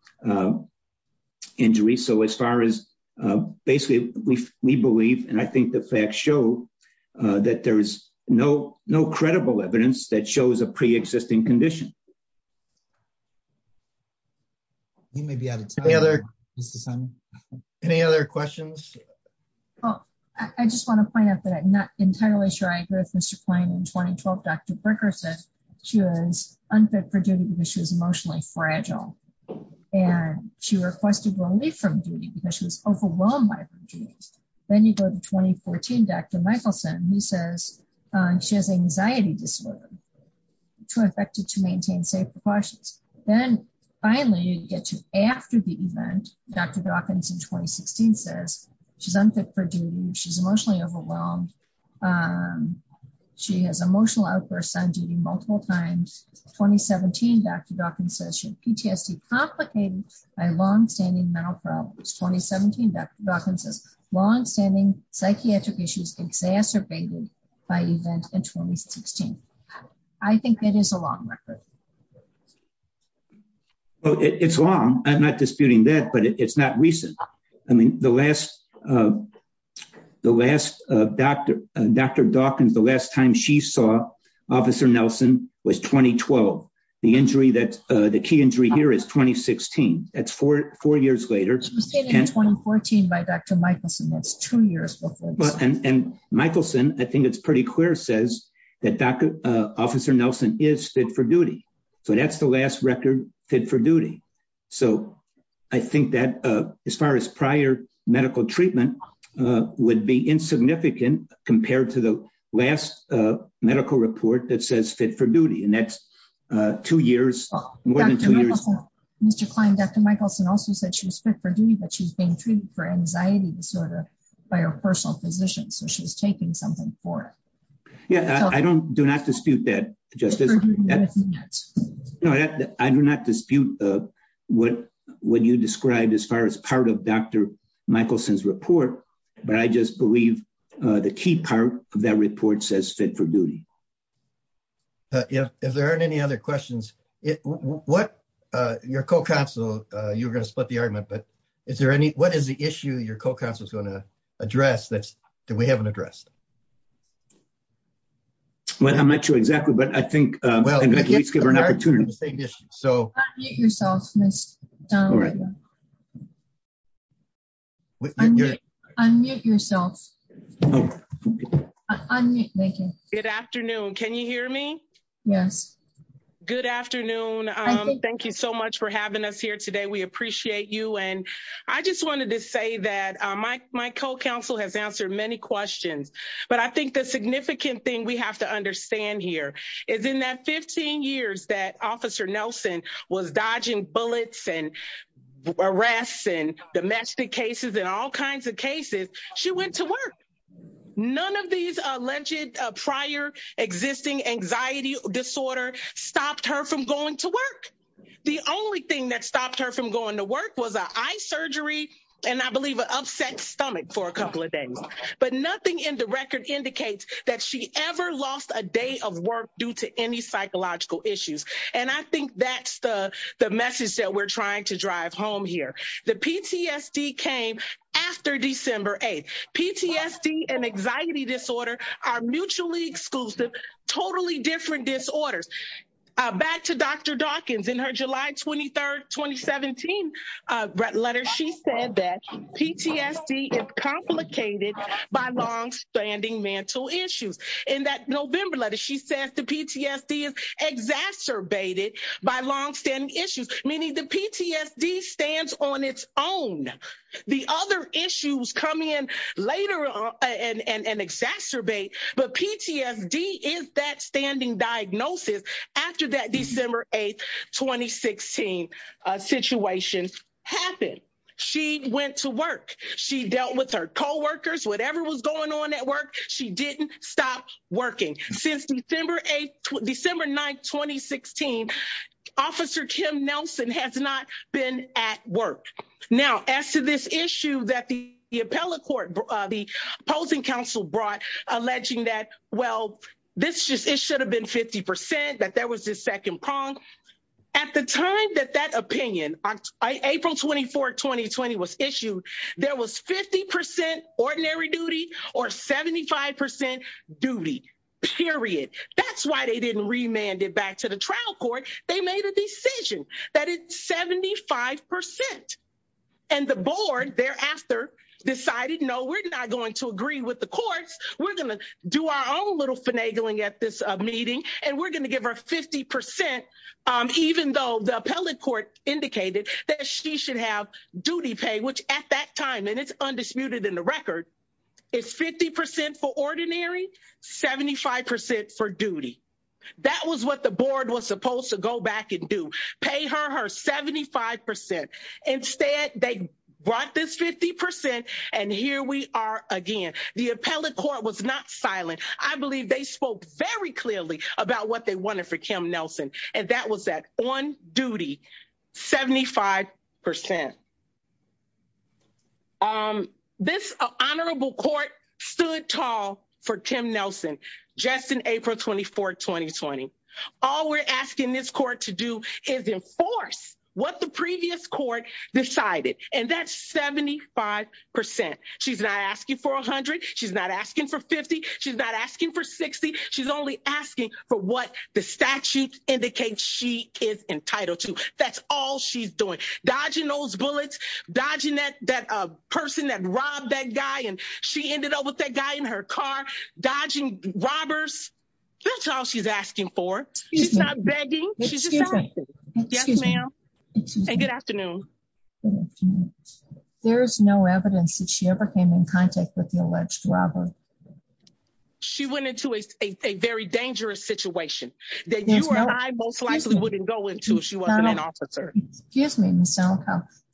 injury. So as far as basically we believe, and I think the facts show that there's no credible evidence that shows a preexisting condition. Any other questions? Well, I just want to point out that I'm not entirely sure I agree with Mr. Klein. In 2012, Dr. Bricker said she was unfit for duty because she was emotionally fragile. And she requested relief from duty because she was overwhelmed by her duties. Then you go to 2014, Dr. Michelson, who says she has anxiety disorder. She was affected to maintaining her safety precautions. Then finally, you get to after the event, Dr. Dawkins in 2016 says she's unfit for duty. She's emotionally overwhelmed. She has emotional outbursts on duty multiple times. 2017, Dr. Dawkins says she has PTSD complicated by long-standing mental problems. 2017, Dr. Dawkins says long-standing psychiatric issues exacerbated by events in 2016. I think it is a long record. Well, it's long. I'm not disputing that, but it's not recent. I mean, the last Dr. Dawkins, the last time she saw Officer Nelson was 2012. The key injury here is 2016. That's four years later. It's 2014 by Dr. Michelson. That's two years before. Michelson, I think it's pretty clear says that Dr. Officer Nelson is fit for duty. So that's the last record fit for duty. So I think that as far as prior medical treatment would be insignificant compared to the last medical report that says fit for duty. And that's two years. Dr. Michelson also said she was fit for duty, but she's being treated for anxiety disorder by her personal physician. So she's taking something for it. Yeah, I do not dispute that. I do not dispute what you described as far as part of Dr. Michelson's report, but I just believe the key part of that report says fit for duty. If there aren't any other questions, your co-counsel, you were going to split the argument, but is there any, what is the issue your co-counsel is going to address that we haven't addressed? Well, I'm not sure exactly, but I think we're an opportunity to say this. So unmute yourself. Good afternoon. Can you hear me? Yes. Good afternoon. Thank you so much for I just wanted to say that my co-counsel has answered many questions, but I think the significant thing we have to understand here is in that 15 years that officer Nelson was dodging bullets and arrests and domestic cases and all kinds of cases, she went to work. None of these alleged prior existing anxiety disorder stopped her from going to work. The only thing that stopped her from going to work was an eye surgery and I believe an upset stomach for a couple of days, but nothing in the record indicates that she ever lost a day of work due to any psychological issues. And I think that's the message that we're trying to drive home here. The PTSD came after December 8th. PTSD and anxiety disorder are mutually exclusive, totally different disorders. Back to Dr. Dawkins in her July 23rd, 2017 letter, she said that PTSD is complicated by long standing mental issues. In that November letter, she says the PTSD is exacerbated by long standing issues, meaning the PTSD stands on its own. The other issues come in later and diagnosis after that December 8th, 2016 situation happened. She went to work. She dealt with her coworkers, whatever was going on at work. She didn't stop working. Since December 8th, December 9th, 2016, Officer Kim Nelson has not been at work. Now, as to this issue that the 50% that there was this second prong, at the time that that opinion, April 24, 2020 was issued, there was 50% ordinary duty or 75% duty, period. That's why they didn't remand it back to the trial court. They made a decision that it's 75%. And the board thereafter decided, no, we're not going to agree with the court. We're going to do our own little finagling at this meeting. And we're going to give her 50%, even though the appellate court indicated that she should have duty pay, which at that time, and it's undisputed in the record, is 50% for ordinary, 75% for duty. That was what the board was supposed to go back and do, pay her her 75%. Instead, they brought this 50%. And here we are, again, the appellate court was not silent. I believe they spoke very clearly about what they wanted for Kim Nelson. And that was that one duty 75%. Um, this honorable court stood tall for Tim Nelson, just in April 24 2020. All we're asking this court to do is enforce what the previous court decided. And that's 75%. She's not asking for 100. She's not asking for 50. She's not asking for 60. She's only asking for what the statute indicates she is entitled to. That's all she's doing dodging those bullets, dodging that that person that robbed that guy. And she ended up with that guy in her car, dodging robbers. That's all she's asking for. She's not begging. Yes, ma'am. And good afternoon. There's no evidence that she ever came in contact with the alleged robber. She went into a very dangerous situation that you and I most likely wouldn't go into if she wasn't an officer. Excuse me,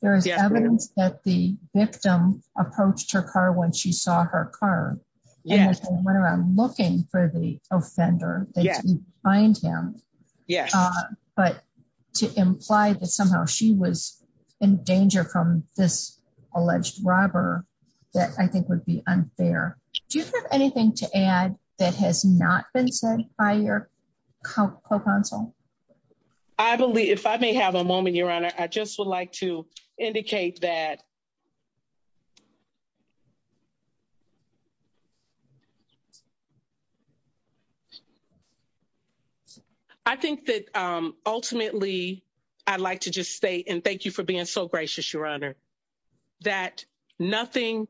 there is evidence that the victim approached her car when she saw her car. Yes, I'm looking for the offender. Yeah, find him. Yeah. But to imply that somehow she was in danger from this alleged robber, that I think would be unfair. Do you have anything to add that has not been said by your counsel? I believe if I may have a moment, Your Honor, I just would like to indicate that I think that ultimately, I'd like to just say and thank you for being so gracious, Your Honor, that nothing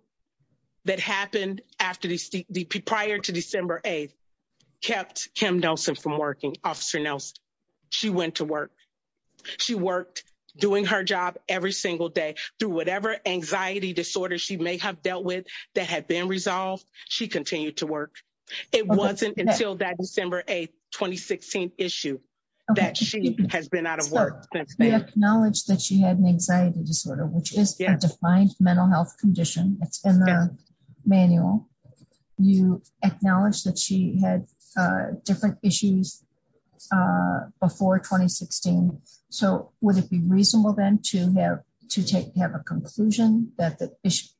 that happened after the prior to December 8th Kim Nelson from working officer Nelson, she went to work. She worked doing her job every single day through whatever anxiety disorder she may have dealt with that had been resolved. She continued to work. It wasn't until that December 8 2016 issue that she has been out of work. They have knowledge that she had an anxiety disorder, which is a defined mental health condition in the manual. You acknowledge that she had different issues before 2016. So would it be reasonable then to have to take have a conclusion that the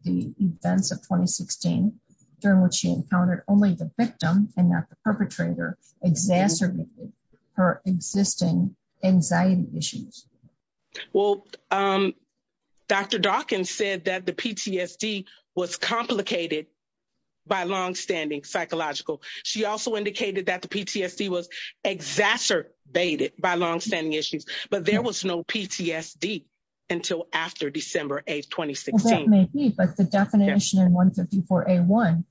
events of 2016 during which she encountered only the victim and not the perpetrator exacerbated her existing anxiety issues? Well, Dr. Dawkins said that the PTSD was complicated by long standing psychological. She also indicated that the PTSD was exacerbated by long standing issues, but there was no PTSD until after December 8 2016. That may be, but the definition in 154 A1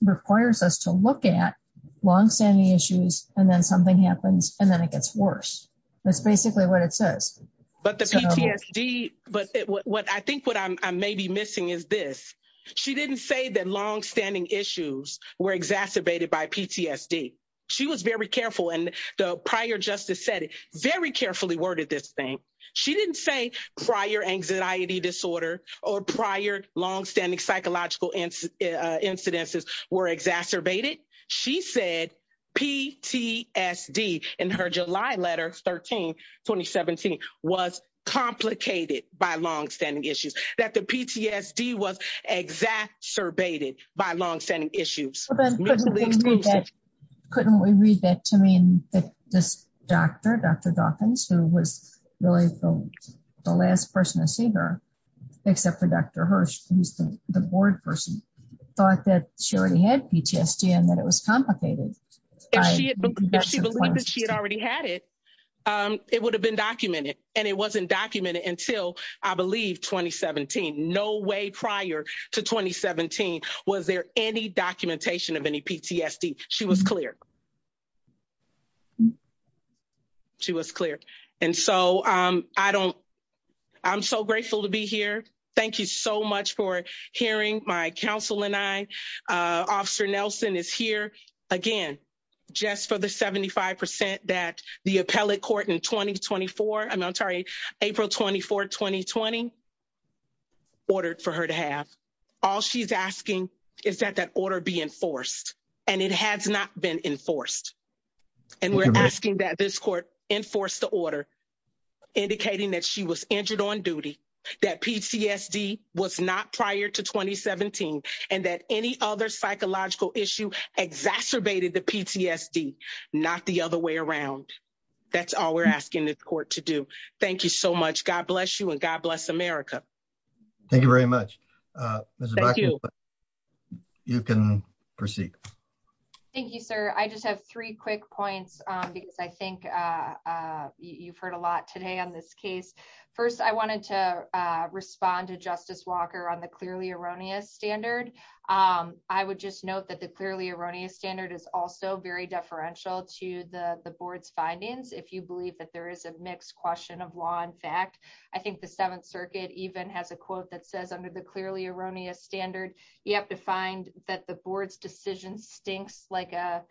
requires us to look at long standing issues and then something happens and then it gets worse. That's basically what it says. But the PTSD, but what I think what I may be missing is this. She didn't say that long standing issues were exacerbated by PTSD. She was very careful and the prior justice said it very carefully worded this thing. She didn't say prior anxiety disorder or prior long standing psychological incidences were exacerbated. She said PTSD in her July letter 13 2017 was complicated by long standing issues. That the PTSD was exacerbated by long standing issues. Couldn't we read that to mean that this doctor, Dr. Dawkins, who was really the last person to see her except for Dr. Hirsch, who's the board person, thought that she already had PTSD and that it was complicated. If she had believed that she had already had it, it would have been documented and it wasn't documented until I believe 2017. No way prior to 2017 was there any documentation of any PTSD. She was clear. She was clear. I'm so grateful to be here. Thank you so much for hearing my counsel and I. Officer Nelson is here. Again, just for the 75% that the appellate court in 2024, I'm sorry, April 24, 2020 ordered for her to have. All she's asking is that that order be enforced. And it has not been enforced. And we're asking that this court enforce the order, indicating that she was injured on duty, that PTSD was not prior to 2017, and that any other psychological issue exacerbated the PTSD, not the other way around. That's all we're asking the court to do. Thank you so much. God bless you and God bless America. Thank you very much. Thank you. You can proceed. Thank you, sir. I just have three quick points. I think you've heard a lot today on this case. First, I wanted to respond to Justice Walker on the clearly erroneous standard. I would just note that the clearly erroneous standard is also very deferential to the board's findings. If you believe that there is a mixed question of law and fact, I think the Seventh Circuit even has a quote that says under the clearly erroneous standard, you have to find that the board's decision stinks like a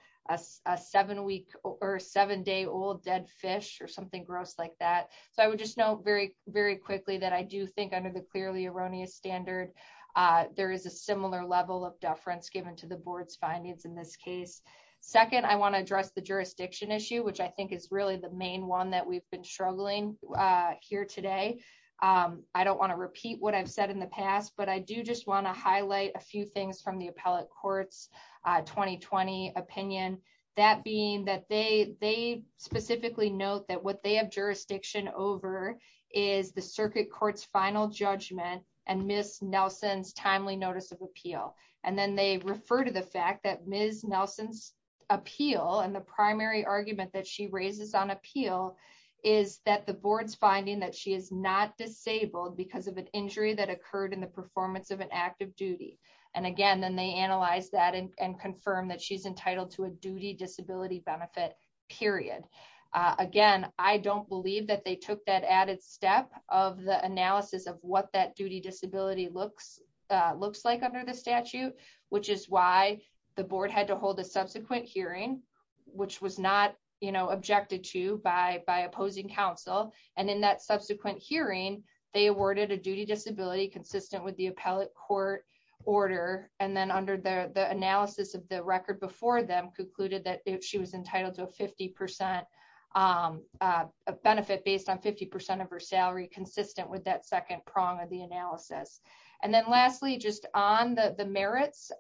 seven week or seven day old dead fish or something gross like that. So I would just note very, very quickly that I do think under the clearly erroneous standard, there is a similar level of deference given to the board's findings in this case. Second, I want to address the jurisdiction issue, which I think is really the main one that we've been struggling here today. I don't want to repeat what I've said in the past, but I do just want to highlight a few things from the appellate court's 2020 opinion, that being that they specifically note that what they have jurisdiction over is the circuit court's final judgment and Ms. Nelson's timely notice of appeal. And then they refer to the fact that Ms. is that the board's finding that she is not disabled because of an injury that occurred in the performance of an active duty. And again, then they analyze that and confirm that she's entitled to a duty disability benefit period. Again, I don't believe that they took that added step of the analysis of what that duty disability looks like under the statute, which is why the opposing counsel. And in that subsequent hearing, they awarded a duty disability consistent with the appellate court order. And then under the analysis of the record before them concluded that she was entitled to a 50% benefit based on 50% of her salary consistent with that second prong of the analysis. And then lastly, just on the merits,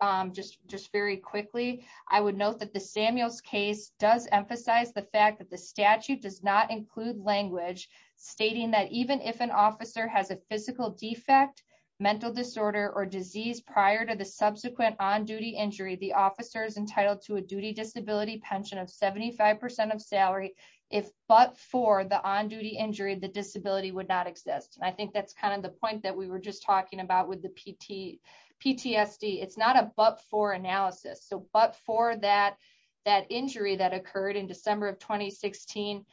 just very quickly, I would note that the Samuels case does emphasize the fact that the statute does not include language stating that even if an officer has a physical defect, mental disorder or disease prior to the subsequent on duty injury, the officer is entitled to a duty disability pension of 75% of salary. If but for the on duty injury, the disability would not exist. I think that's kind of the point that we were just talking about with the PTSD. It's not a but for analysis, but for that, that injury that occurred in December of 2016.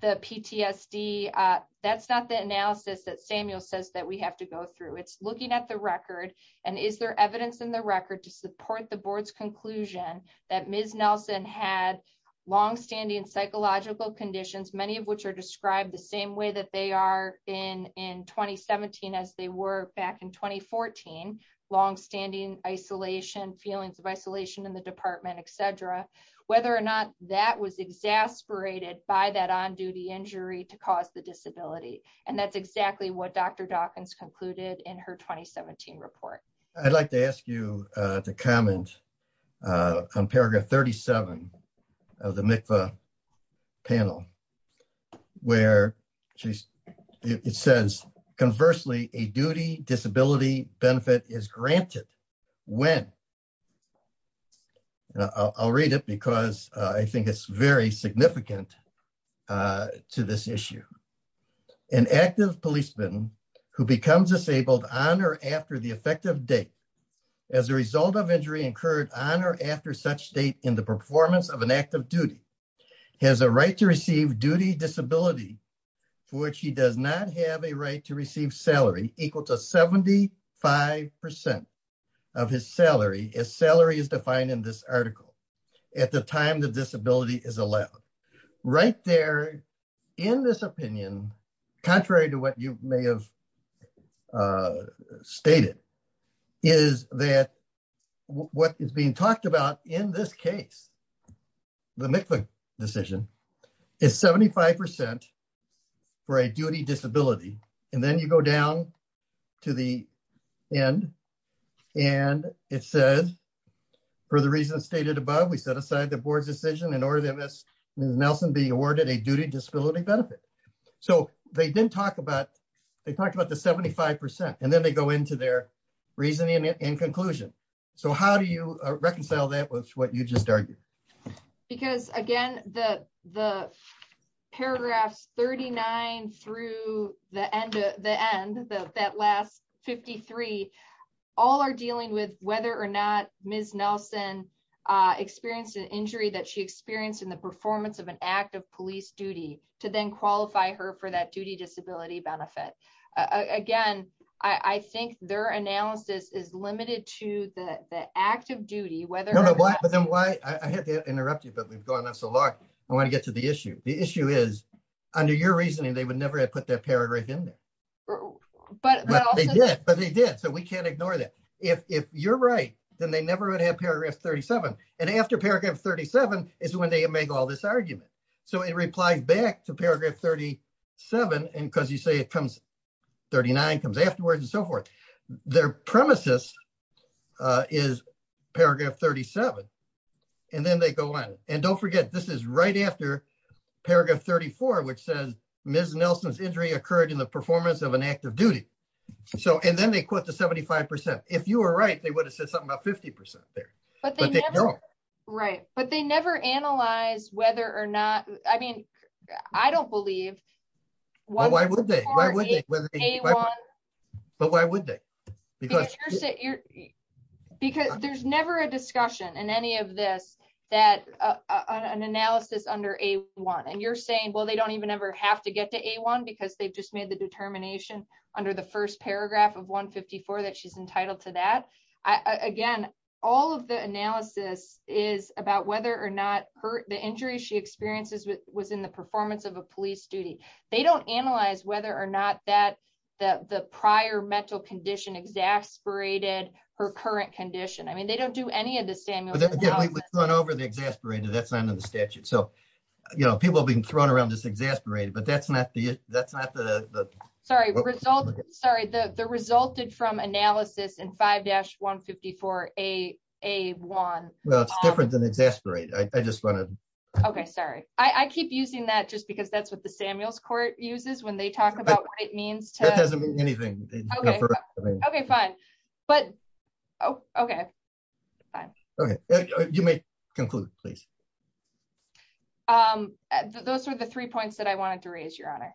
The PTSD, that's not the analysis that Samuel says that we have to go through. It's looking at the record. And is there evidence in the record to support the board's conclusion that Ms. Nelson had long standing psychological conditions, many of which are described the same that they are in in 2017, as they were back in 2014, long standing isolation, feelings of isolation in the department, etc. Whether or not that was exasperated by that on duty injury to cause the disability. And that's exactly what Dr. Dawkins concluded in her 2017 report. I'd like to ask you to comment on paragraph 37 of the panel, where she says, conversely, a duty disability benefit is granted when I'll read it because I think it's very significant to this issue. An active policeman who becomes disabled on or after the effective date, as a result of injury incurred on or after such state in the performance of an active duty, has a right to receive duty disability, which he does not have a right to receive salary equal to 75% of his salary, his salary is defined in this article, at the time the disability is allowed. Right there, in this opinion, contrary to what you may have stated, is that what is being talked about in this case, the MIPSA decision, is 75% for a duty disability. And then you go down to the end. And it says, for the reasons stated above, we set aside the board decision in order to Nelson being awarded a duty disability benefit. So they didn't talk about, they talked about the 75%. And then they go into their reasoning and conclusion. So how do you reconcile that with what you just argued? Because again, the paragraph 39 through the end of the end of that last 53, all are dealing with whether or not Ms. Nelson experienced an injury that she experienced in the performance of an active police duty to then qualify her for that duty disability benefit. Again, I think their analysis is limited to the active duty, whether... No, but then why, I have to interrupt you, but we've gone on so long. I want to get to the issue. The issue is, under your reasoning, they would never have put that paragraph in there. But they did. So we can't ignore that. If you're right, then they never would have paragraph 37. And after paragraph 37 is when they make all this argument. So in reply back to paragraph 37, and because you say it comes 39, comes afterwards and so forth, their premises is paragraph 37. And then they go on. And don't forget, this is right after paragraph 34, which says, Ms. Nelson's injury occurred in the performance of an active duty. So, and then they quote the 75%. If you were right, they would have said something about 50% there. But they never... But they don't. Right. But they never analyze whether or not... I mean, I don't believe... Why would they? Why would they? But why would they? Because... Because there's never a discussion in any of this that an analysis under A1. And you're saying, well, they don't even ever have to get to A1 because they've just made the determination under the first paragraph of 154 that she's entitled to that. Again, all of the analysis is about whether or not the injury she experiences was in the performance of a police duty. They don't analyze whether or not that the prior mental condition exasperated her current condition. I mean, they don't do any of the same. But again, it was thrown over the exasperated. That's under the statute. So people have been thrown around this exasperated, but that's not the... Sorry. The result... Sorry. The resulted from analysis in 5-154 A1. Well, it's different than exasperated. I just wanted to... Okay. Sorry. I keep using that just because that's what the Samuels Court uses when they talk about what it means to... That doesn't mean anything. Okay. Fine. But... Okay. Fine. Okay. You may conclude, please. Those are the three points that I wanted to raise, Your Honor.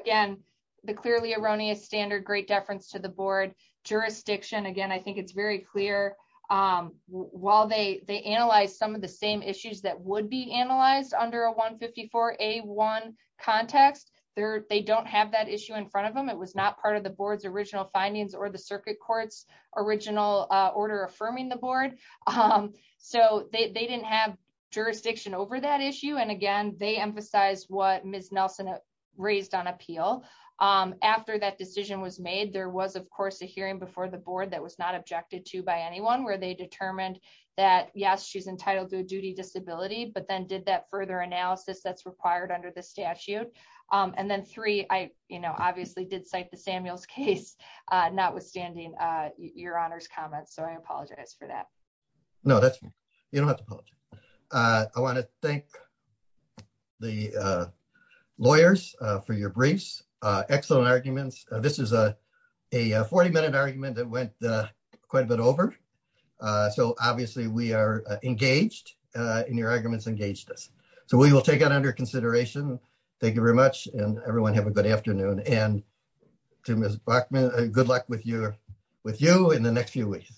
Again, the clearly erroneous standard, great deference to the board. Jurisdiction, again, I think it's very clear. While they analyze some of the same issues that would be analyzed under a 154 A1 context, they don't have that issue in front of them. It was not part of the board's original findings or the circuit court's original order affirming the board. So they didn't have jurisdiction over that issue. And again, they emphasize what Ms. Nelson raised on appeal. After that decision was made, there was, of course, a hearing before the board that was not objected to by anyone where they determined that, yes, she's entitled to a duty disability, but then did that further analysis that's required under the statute. And then three, I obviously did cite the Samuels case, notwithstanding Your Honor's comments. So I apologize for that. No, that's... You don't have to apologize. I want to thank the lawyers for your briefs. Excellent arguments. This is a 40-minute argument that went quite a bit over. So obviously we are engaged, and your arguments engaged us. So we will take that under consideration. Thank you very much, and everyone have a good afternoon. And to Ms. Bachman, good luck with you in the next few weeks.